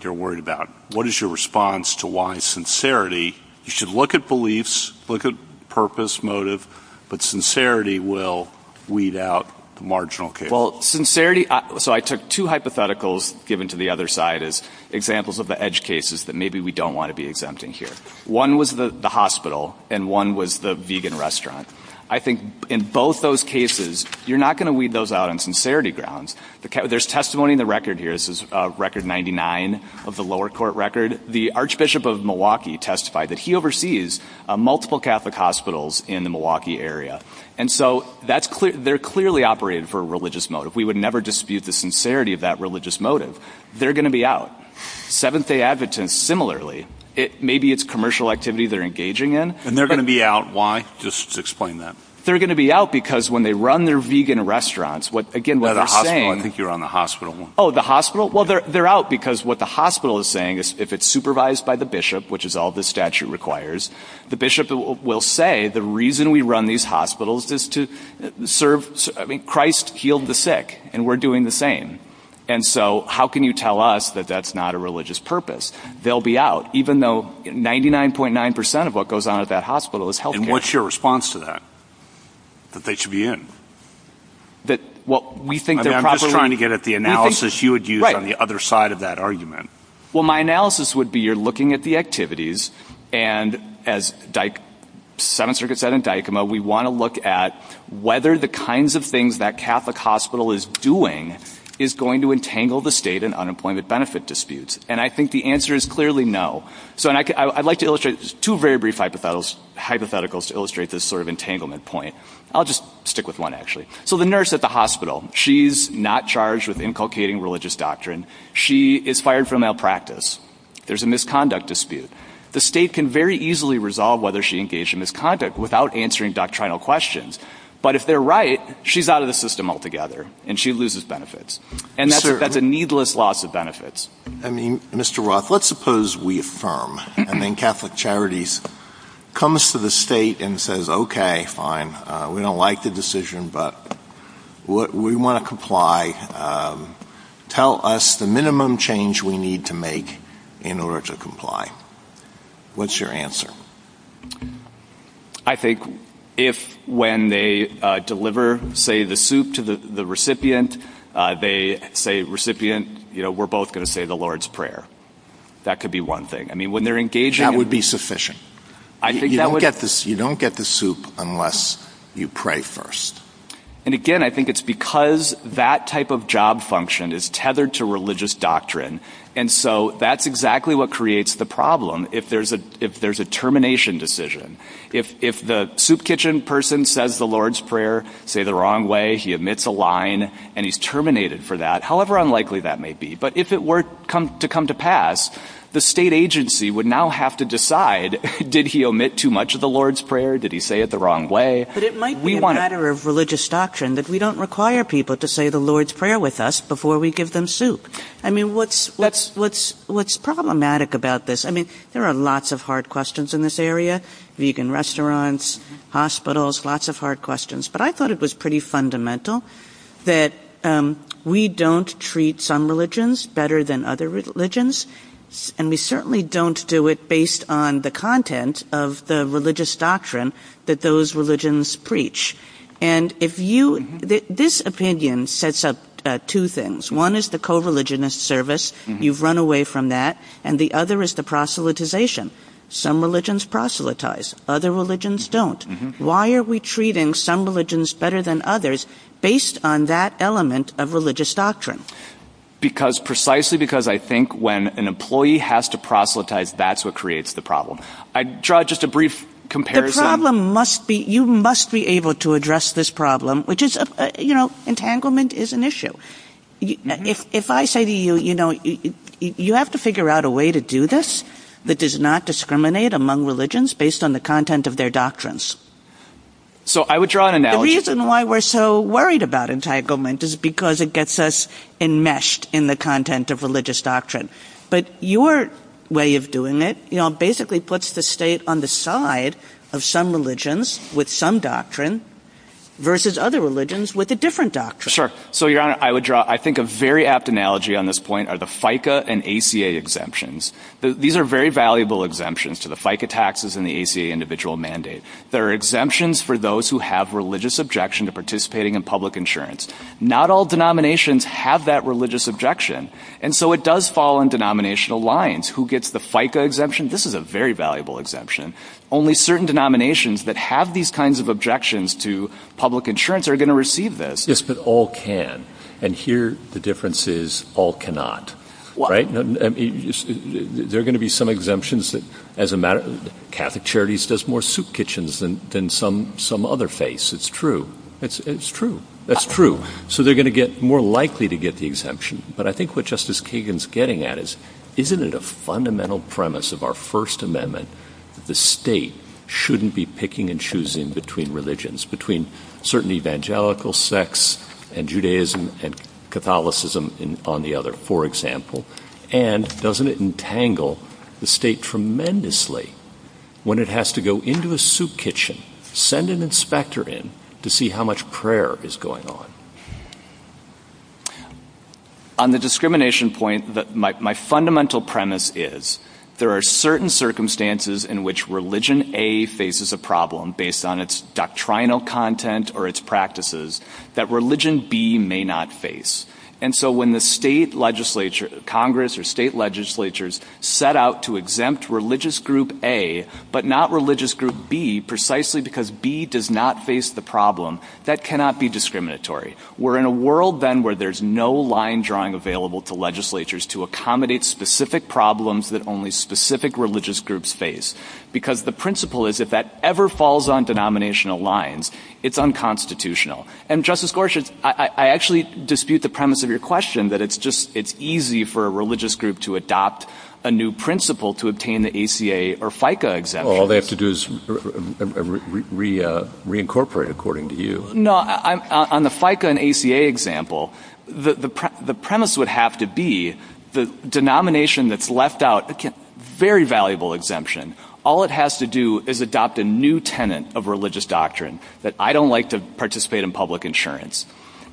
they're worried about. What is your response to why sincerity? You should look at beliefs, look at purpose, motive, but sincerity will weed out the marginal cases. Well, sincerity – so I took two hypotheticals given to the other side as examples of the edge cases that maybe we don't want to be exempting here. One was the hospital, and one was the vegan restaurant. I think in both those cases, you're not going to weed those out on sincerity grounds. There's testimony in the record here. This is Record 99 of the lower court record. And the Archbishop of Milwaukee testified that he oversees multiple Catholic hospitals in the Milwaukee area. And so they're clearly operating for a religious motive. We would never dispute the sincerity of that religious motive. They're going to be out. Seventh-day Adventists, similarly. Maybe it's commercial activity they're engaging in. And they're going to be out. Why? Just explain that. They're going to be out because when they run their vegan restaurants – I think you're on the hospital one. Oh, the hospital? Well, they're out because what the hospital is saying is if it's supervised by the bishop, which is all this statute requires, the bishop will say the reason we run these hospitals is to serve – Christ healed the sick, and we're doing the same. And so how can you tell us that that's not a religious purpose? They'll be out, even though 99.9% of what goes on at that hospital is healthcare. And what's your response to that? That they should be in? I'm just trying to get at the analysis you would use on the other side of that argument. Well, my analysis would be you're looking at the activities. And as Seventh Circuit said in Dykema, we want to look at whether the kinds of things that Catholic hospital is doing is going to entangle the state in unemployment benefit disputes. And I think the answer is clearly no. So I'd like to illustrate two very brief hypotheticals to illustrate this sort of entanglement point. I'll just stick with one, actually. So the nurse at the hospital, she's not charged with inculcating religious doctrine. She is fired from malpractice. There's a misconduct dispute. The state can very easily resolve whether she engaged in misconduct without answering doctrinal questions. But if they're right, she's out of the system altogether, and she loses benefits. And that's a needless loss of benefits. I mean, Mr. Roth, let's suppose we affirm. I mean, Catholic Charities comes to the state and says, okay, fine, we don't like the decision, but we want to comply. Tell us the minimum change we need to make in order to comply. What's your answer? I think if when they deliver, say, the soup to the recipient, they say, recipient, we're both going to say the Lord's Prayer. That could be one thing. That would be sufficient. You don't get the soup unless you pray first. And again, I think it's because that type of job function is tethered to religious doctrine. And so that's exactly what creates the problem. If there's a termination decision, if the soup kitchen person says the Lord's Prayer, say the wrong way, he omits a line, and he's terminated for that, however unlikely that may be. But if it were to come to pass, the state agency would now have to decide, did he omit too much of the Lord's Prayer? Did he say it the wrong way? But it might be a matter of religious doctrine that we don't require people to say the Lord's Prayer with us before we give them soup. I mean, what's problematic about this? I mean, there are lots of hard questions in this area, vegan restaurants, hospitals, lots of hard questions. But I thought it was pretty fundamental that we don't treat some religions better than other religions. And we certainly don't do it based on the content of the religious doctrine that those religions preach. And this opinion sets up two things. One is the co-religionist service. You've run away from that. And the other is the proselytization. Some religions proselytize. Other religions don't. Why are we treating some religions better than others based on that element of religious doctrine? Because precisely because I think when an employee has to proselytize, that's what creates the problem. I draw just a brief comparison. The problem must be, you must be able to address this problem, which is, you know, entanglement is an issue. If I say to you, you know, you have to figure out a way to do this that does not discriminate among religions based on the content of their doctrines. So I would draw an analogy. The reason why we're so worried about entanglement is because it gets us enmeshed in the content of religious doctrine. But your way of doing it, you know, basically puts the state on the side of some religions with some doctrine versus other religions with a different doctrine. I think a very apt analogy on this point are the FICA and ACA exemptions. These are very valuable exemptions to the FICA taxes and the ACA individual mandate. There are exemptions for those who have religious objection to participating in public insurance. Not all denominations have that religious objection. And so it does fall in denominational lines. Who gets the FICA exemption? This is a very valuable exemption. Only certain denominations that have these kinds of objections to public insurance are going to receive this. Yes, but all can. And here the difference is all cannot. There are going to be some exemptions that as a matter of Catholic Charities does more soup kitchens than some other faiths. It's true. It's true. That's true. So they're going to get more likely to get the exemption. But I think what Justice Kagan's getting at is, isn't it a fundamental premise of our First Amendment? The state shouldn't be picking and choosing between religions, between certain evangelical sects and Judaism and Catholicism on the other, for example. And doesn't it entangle the state tremendously when it has to go into a soup kitchen, send an inspector in to see how much prayer is going on? On the discrimination point, my fundamental premise is there are certain circumstances in which religion A faces a problem based on its doctrinal content or its practices that religion B may not face. And so when the state legislature, Congress or state legislatures set out to exempt religious group A but not religious group B precisely because B does not face the problem, that cannot be discriminatory. We're in a world then where there's no line drawing available to legislatures to accommodate specific problems that only specific religious groups face. Because the principle is if that ever falls on denominational lines, it's unconstitutional. And, Justice Gorsuch, I actually dispute the premise of your question that it's easy for a religious group to adopt a new principle to obtain the ACA or FICA exemption. All they have to do is reincorporate, according to you. No, on the FICA and ACA example, the premise would have to be the denomination that's left out gets a very valuable exemption. All it has to do is adopt a new tenant of religious doctrine that I don't like to participate in public insurance.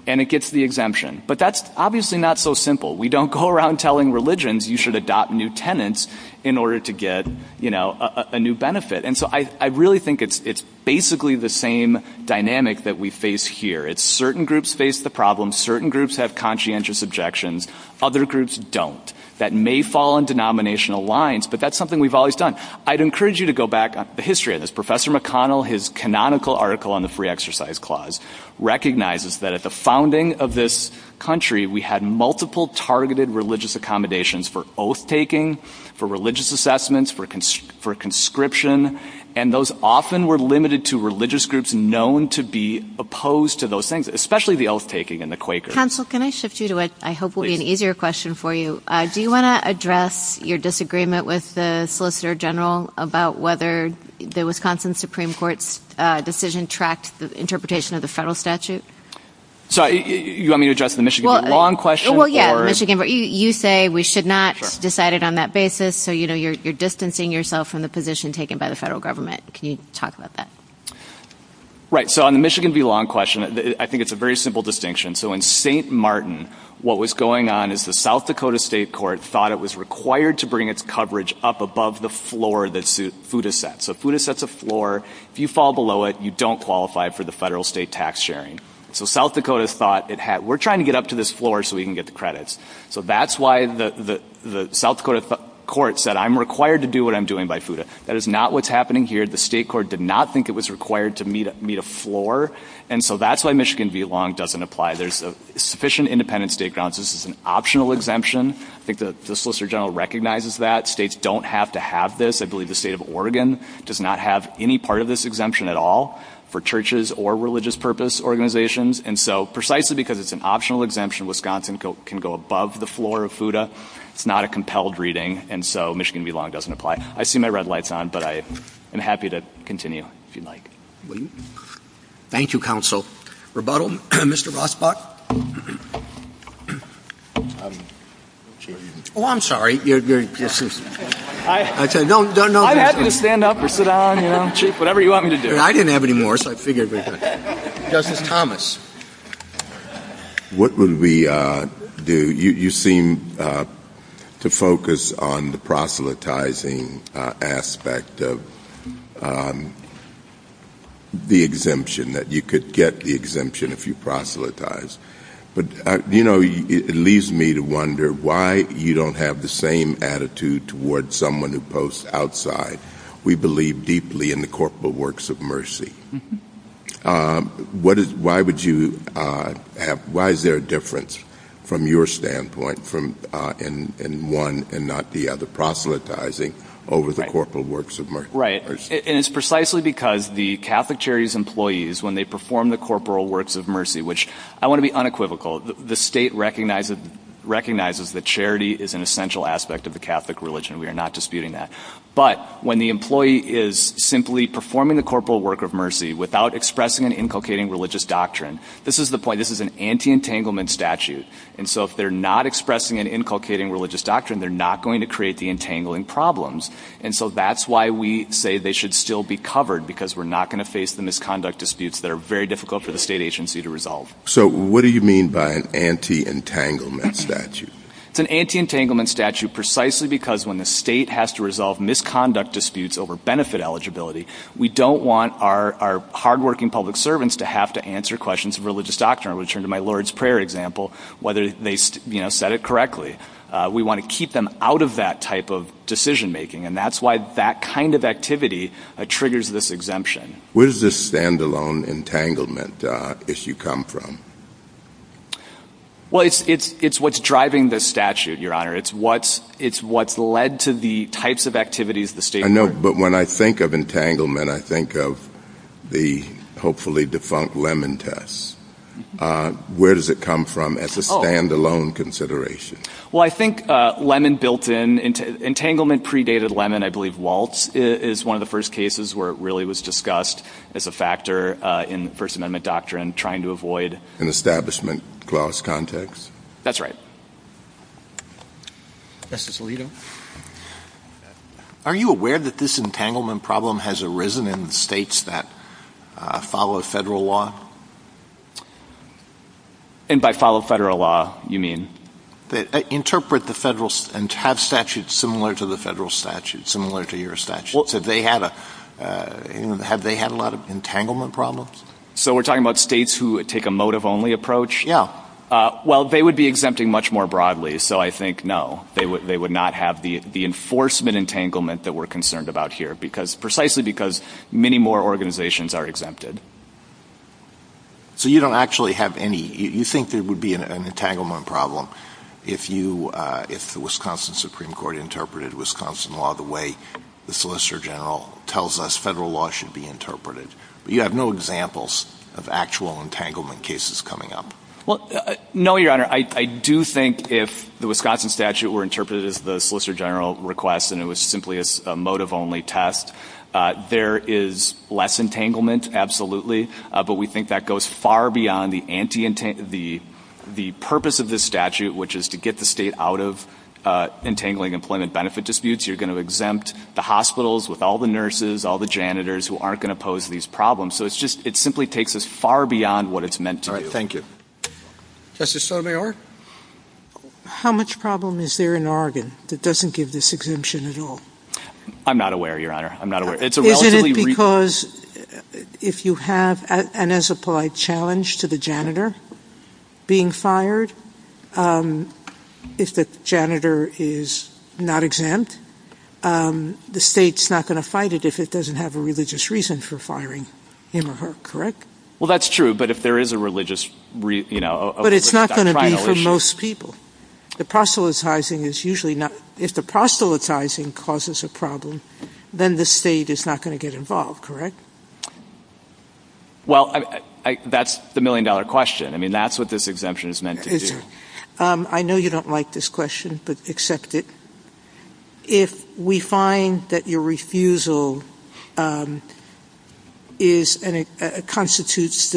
And it gets the exemption. But that's obviously not so simple. We don't go around telling religions you should adopt new tenants in order to get a new benefit. And so I really think it's basically the same dynamic that we face here. It's certain groups face the problem. Certain groups have conscientious objections. Other groups don't. That may fall on denominational lines, but that's something we've always done. I'd encourage you to go back the history of this. Professor McConnell, his canonical article on the free exercise clause recognizes that at the founding of this country, we had multiple targeted religious accommodations for oath-taking, for religious assessments, for conscription. And those often were limited to religious groups known to be opposed to those things, especially the oath-taking and the Quakers. Counsel, can I shift you to what I hope will be an easier question for you? Do you want to address your disagreement with the Solicitor General about whether the Wisconsin Supreme Court's decision tracks the interpretation of the federal statute? You want me to address the Michigan v. Long question? Well, yeah. You say we should not decide it on that basis, so you're distancing yourself from the position taken by the federal government. Can you talk about that? Right. So on the Michigan v. Long question, I think it's a very simple distinction. So in St. Martin, what was going on is the South Dakota state court thought it was required to bring its coverage up above the floor that FUTA sets. So FUTA sets a floor. If you fall below it, you don't qualify for the federal state tax sharing. So South Dakota thought, we're trying to get up to this floor so we can get the credits. So that's why the South Dakota court said, I'm required to do what I'm doing by FUTA. That is not what's happening here. The state court did not think it was required to meet a floor. And so that's why Michigan v. Long doesn't apply. There's sufficient independent state consents. It's an optional exemption. I think the Solicitor General recognizes that. States don't have to have this. I believe the state of Oregon does not have any part of this exemption at all for churches or religious purpose organizations. And so precisely because it's an optional exemption, Wisconsin can go above the floor of FUTA. It's not a compelled reading, and so Michigan v. Long doesn't apply. I see my red lights on, but I am happy to continue if you'd like. Thank you, Counsel. Rebuttal, Mr. Rossbach? Oh, I'm sorry. I'm happy to stand up or sit down. Chief, whatever you want me to do. I didn't have any more, so I figured we could. Justice Thomas? What would we do? You seem to focus on the proselytizing aspect of the exemption, that you could get the exemption if you proselytize. But, you know, it leaves me to wonder why you don't have the same attitude towards someone who posts outside. We believe deeply in the corporal works of mercy. Why is there a difference from your standpoint in one and not the other, proselytizing over the corporal works of mercy? And it's precisely because the Catholic Charities employees, when they perform the corporal works of mercy, which I want to be unequivocal, the state recognizes that charity is an essential aspect of the Catholic religion. We are not disputing that. But when the employee is simply performing the corporal work of mercy without expressing an inculcating religious doctrine, this is the point, this is an anti-entanglement statute. And so if they're not expressing an inculcating religious doctrine, they're not going to create the entangling problems. And so that's why we say they should still be covered, because we're not going to face the misconduct disputes that are very difficult for the state agency to resolve. So what do you mean by an anti-entanglement statute? It's an anti-entanglement statute precisely because when the state has to resolve misconduct disputes over benefit eligibility, we don't want our hard-working public servants to have to answer questions of religious doctrine. I'll return to my Lord's Prayer example, whether they said it correctly. We want to keep them out of that type of decision-making, and that's why that kind of activity triggers this exemption. Where does this standalone entanglement issue come from? Well, it's what's driving this statute, Your Honor. It's what's led to the types of activities the state has. I know, but when I think of entanglement, I think of the hopefully defunct Lemon test. Where does it come from as a standalone consideration? Well, I think Lemon built in, entanglement predated Lemon. I believe Waltz is one of the first cases where it really was discussed as a factor in First Amendment doctrine, trying to avoid an establishment clause context. That's right. Justice Levy? Are you aware that this entanglement problem has arisen in states that follow federal law? And by follow federal law, you mean? Interpret the federal statute similar to the federal statute, similar to your statute. Have they had a lot of entanglement problems? So we're talking about states who take a motive-only approach? Well, they would be exempting much more broadly, so I think no. They would not have the enforcement entanglement that we're concerned about here, precisely because many more organizations are exempted. So you don't actually have any? You think there would be an entanglement problem if the Wisconsin Supreme Court interpreted Wisconsin law the way the Solicitor General tells us federal law should be interpreted. You have no examples of actual entanglement cases coming up. Well, no, Your Honor. I do think if the Wisconsin statute were interpreted as the Solicitor General requests and it was simply a motive-only test, there is less entanglement, absolutely. But we think that goes far beyond the purpose of this statute, which is to get the state out of entangling employment benefit disputes. You're going to exempt the hospitals with all the nurses, all the janitors, who aren't going to pose these problems. So it simply takes us far beyond what it's meant to do. All right. Thank you. Justice Sotomayor? How much problem is there in Oregon that doesn't give this exemption at all? I'm not aware, Your Honor. I'm not aware. Is it because if you have an as-applied challenge to the janitor being fired, if the janitor is not exempt, the state's not going to fight it if it doesn't have a religious reason for firing him or her, correct? Well, that's true, but if there is a religious, you know, a religious violation. But it's not going to be for most people. The proselytizing is usually not – if the proselytizing causes a problem, then the state is not going to get involved, correct? Well, that's the million-dollar question. I mean, that's what this exemption is meant to do. I know you don't like this question, but accept it. If we find that your refusal is – constitutes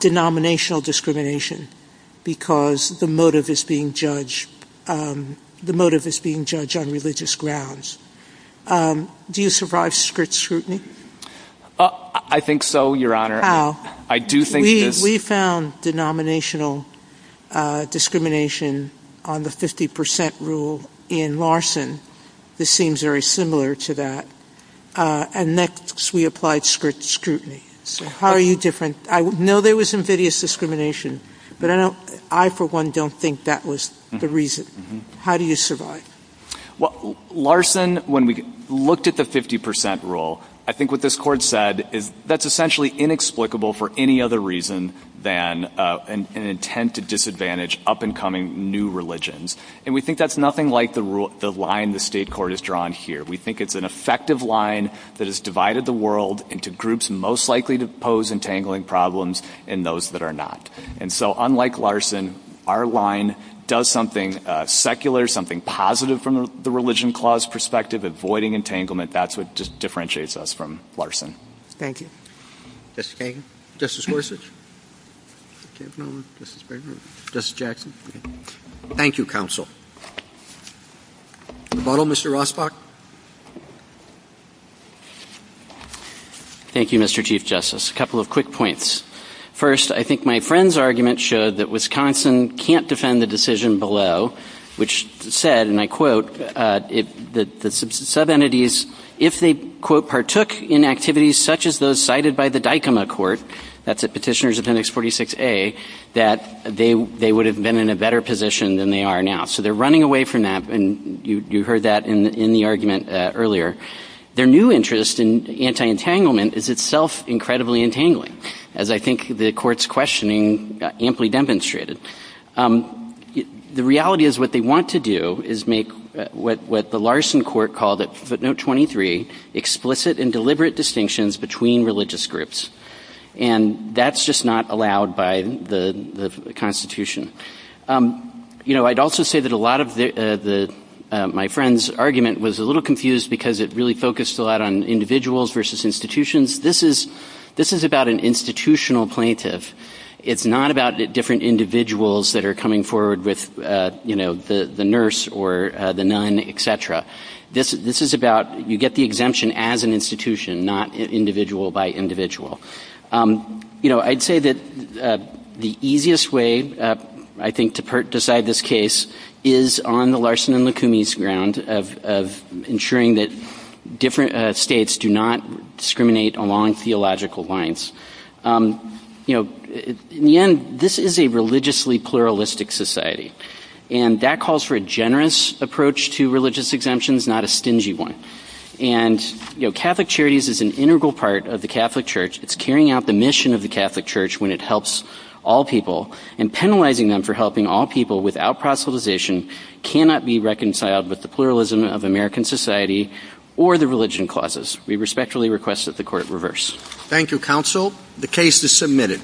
denominational discrimination because the motive is being judged – the motive is being judged on religious grounds, do you survive strict scrutiny? I think so, Your Honor. How? We found denominational discrimination on the 50% rule in Larson. This seems very similar to that. And next, we applied strict scrutiny. So how are you different? I know there was invidious discrimination, but I, for one, don't think that was the reason. How do you survive? Well, Larson, when we looked at the 50% rule, I think what this Court said is that's essentially inexplicable for any other reason than an intent to disadvantage up-and-coming new religions. And we think that's nothing like the line the state court has drawn here. We think it's an effective line that has divided the world into groups most likely to pose entangling problems and those that are not. And so unlike Larson, our line does something secular, something positive from the religion clause perspective, avoiding entanglement. That's what just differentiates us from Larson. Thank you. Mr. Kagan? Justice Gorsuch? I can't remember. Justice Bergeron? Justice Jackson? Thank you, Counsel. Mr. Rosbach? Thank you, Mr. Chief Justice. A couple of quick points. First, I think my friend's argument showed that Wisconsin can't defend the decision below, which said, and I quote, the sub-entities, if they, quote, partook in activities such as those cited by the DICOMA Court, that's the Petitioners of Index 46A, that they would have been in a better position than they are now. So they're running away from that, and you heard that in the argument earlier. Their new interest in anti-entanglement is itself incredibly entangling, as I think the Court's questioning amply demonstrated. The reality is what they want to do is make what the Larson Court called at footnote 23, explicit and deliberate distinctions between religious groups. And that's just not allowed by the Constitution. You know, I'd also say that a lot of my friend's argument was a little confused because it really focused a lot on individuals versus institutions. This is about an institutional plaintiff. It's not about different individuals that are coming forward with, you know, the nurse or the nun, et cetera. This is about, you get the exemption as an institution, not individual by individual. You know, I'd say that the easiest way, I think, to decide this case is on the Larson and Lacoumi's ground of ensuring that different states do not discriminate along theological lines. You know, in the end, this is a religiously pluralistic society, and that calls for a generous approach to religious exemptions, not a stingy one. And, you know, Catholic Charities is an integral part of the Catholic Church. It's carrying out the mission of the Catholic Church when it helps all people, and penalizing them for helping all people without proselytization cannot be reconciled with the pluralism of American society or the religion clauses. We respectfully request that the Court reverse. Thank you, Counsel. The case is submitted.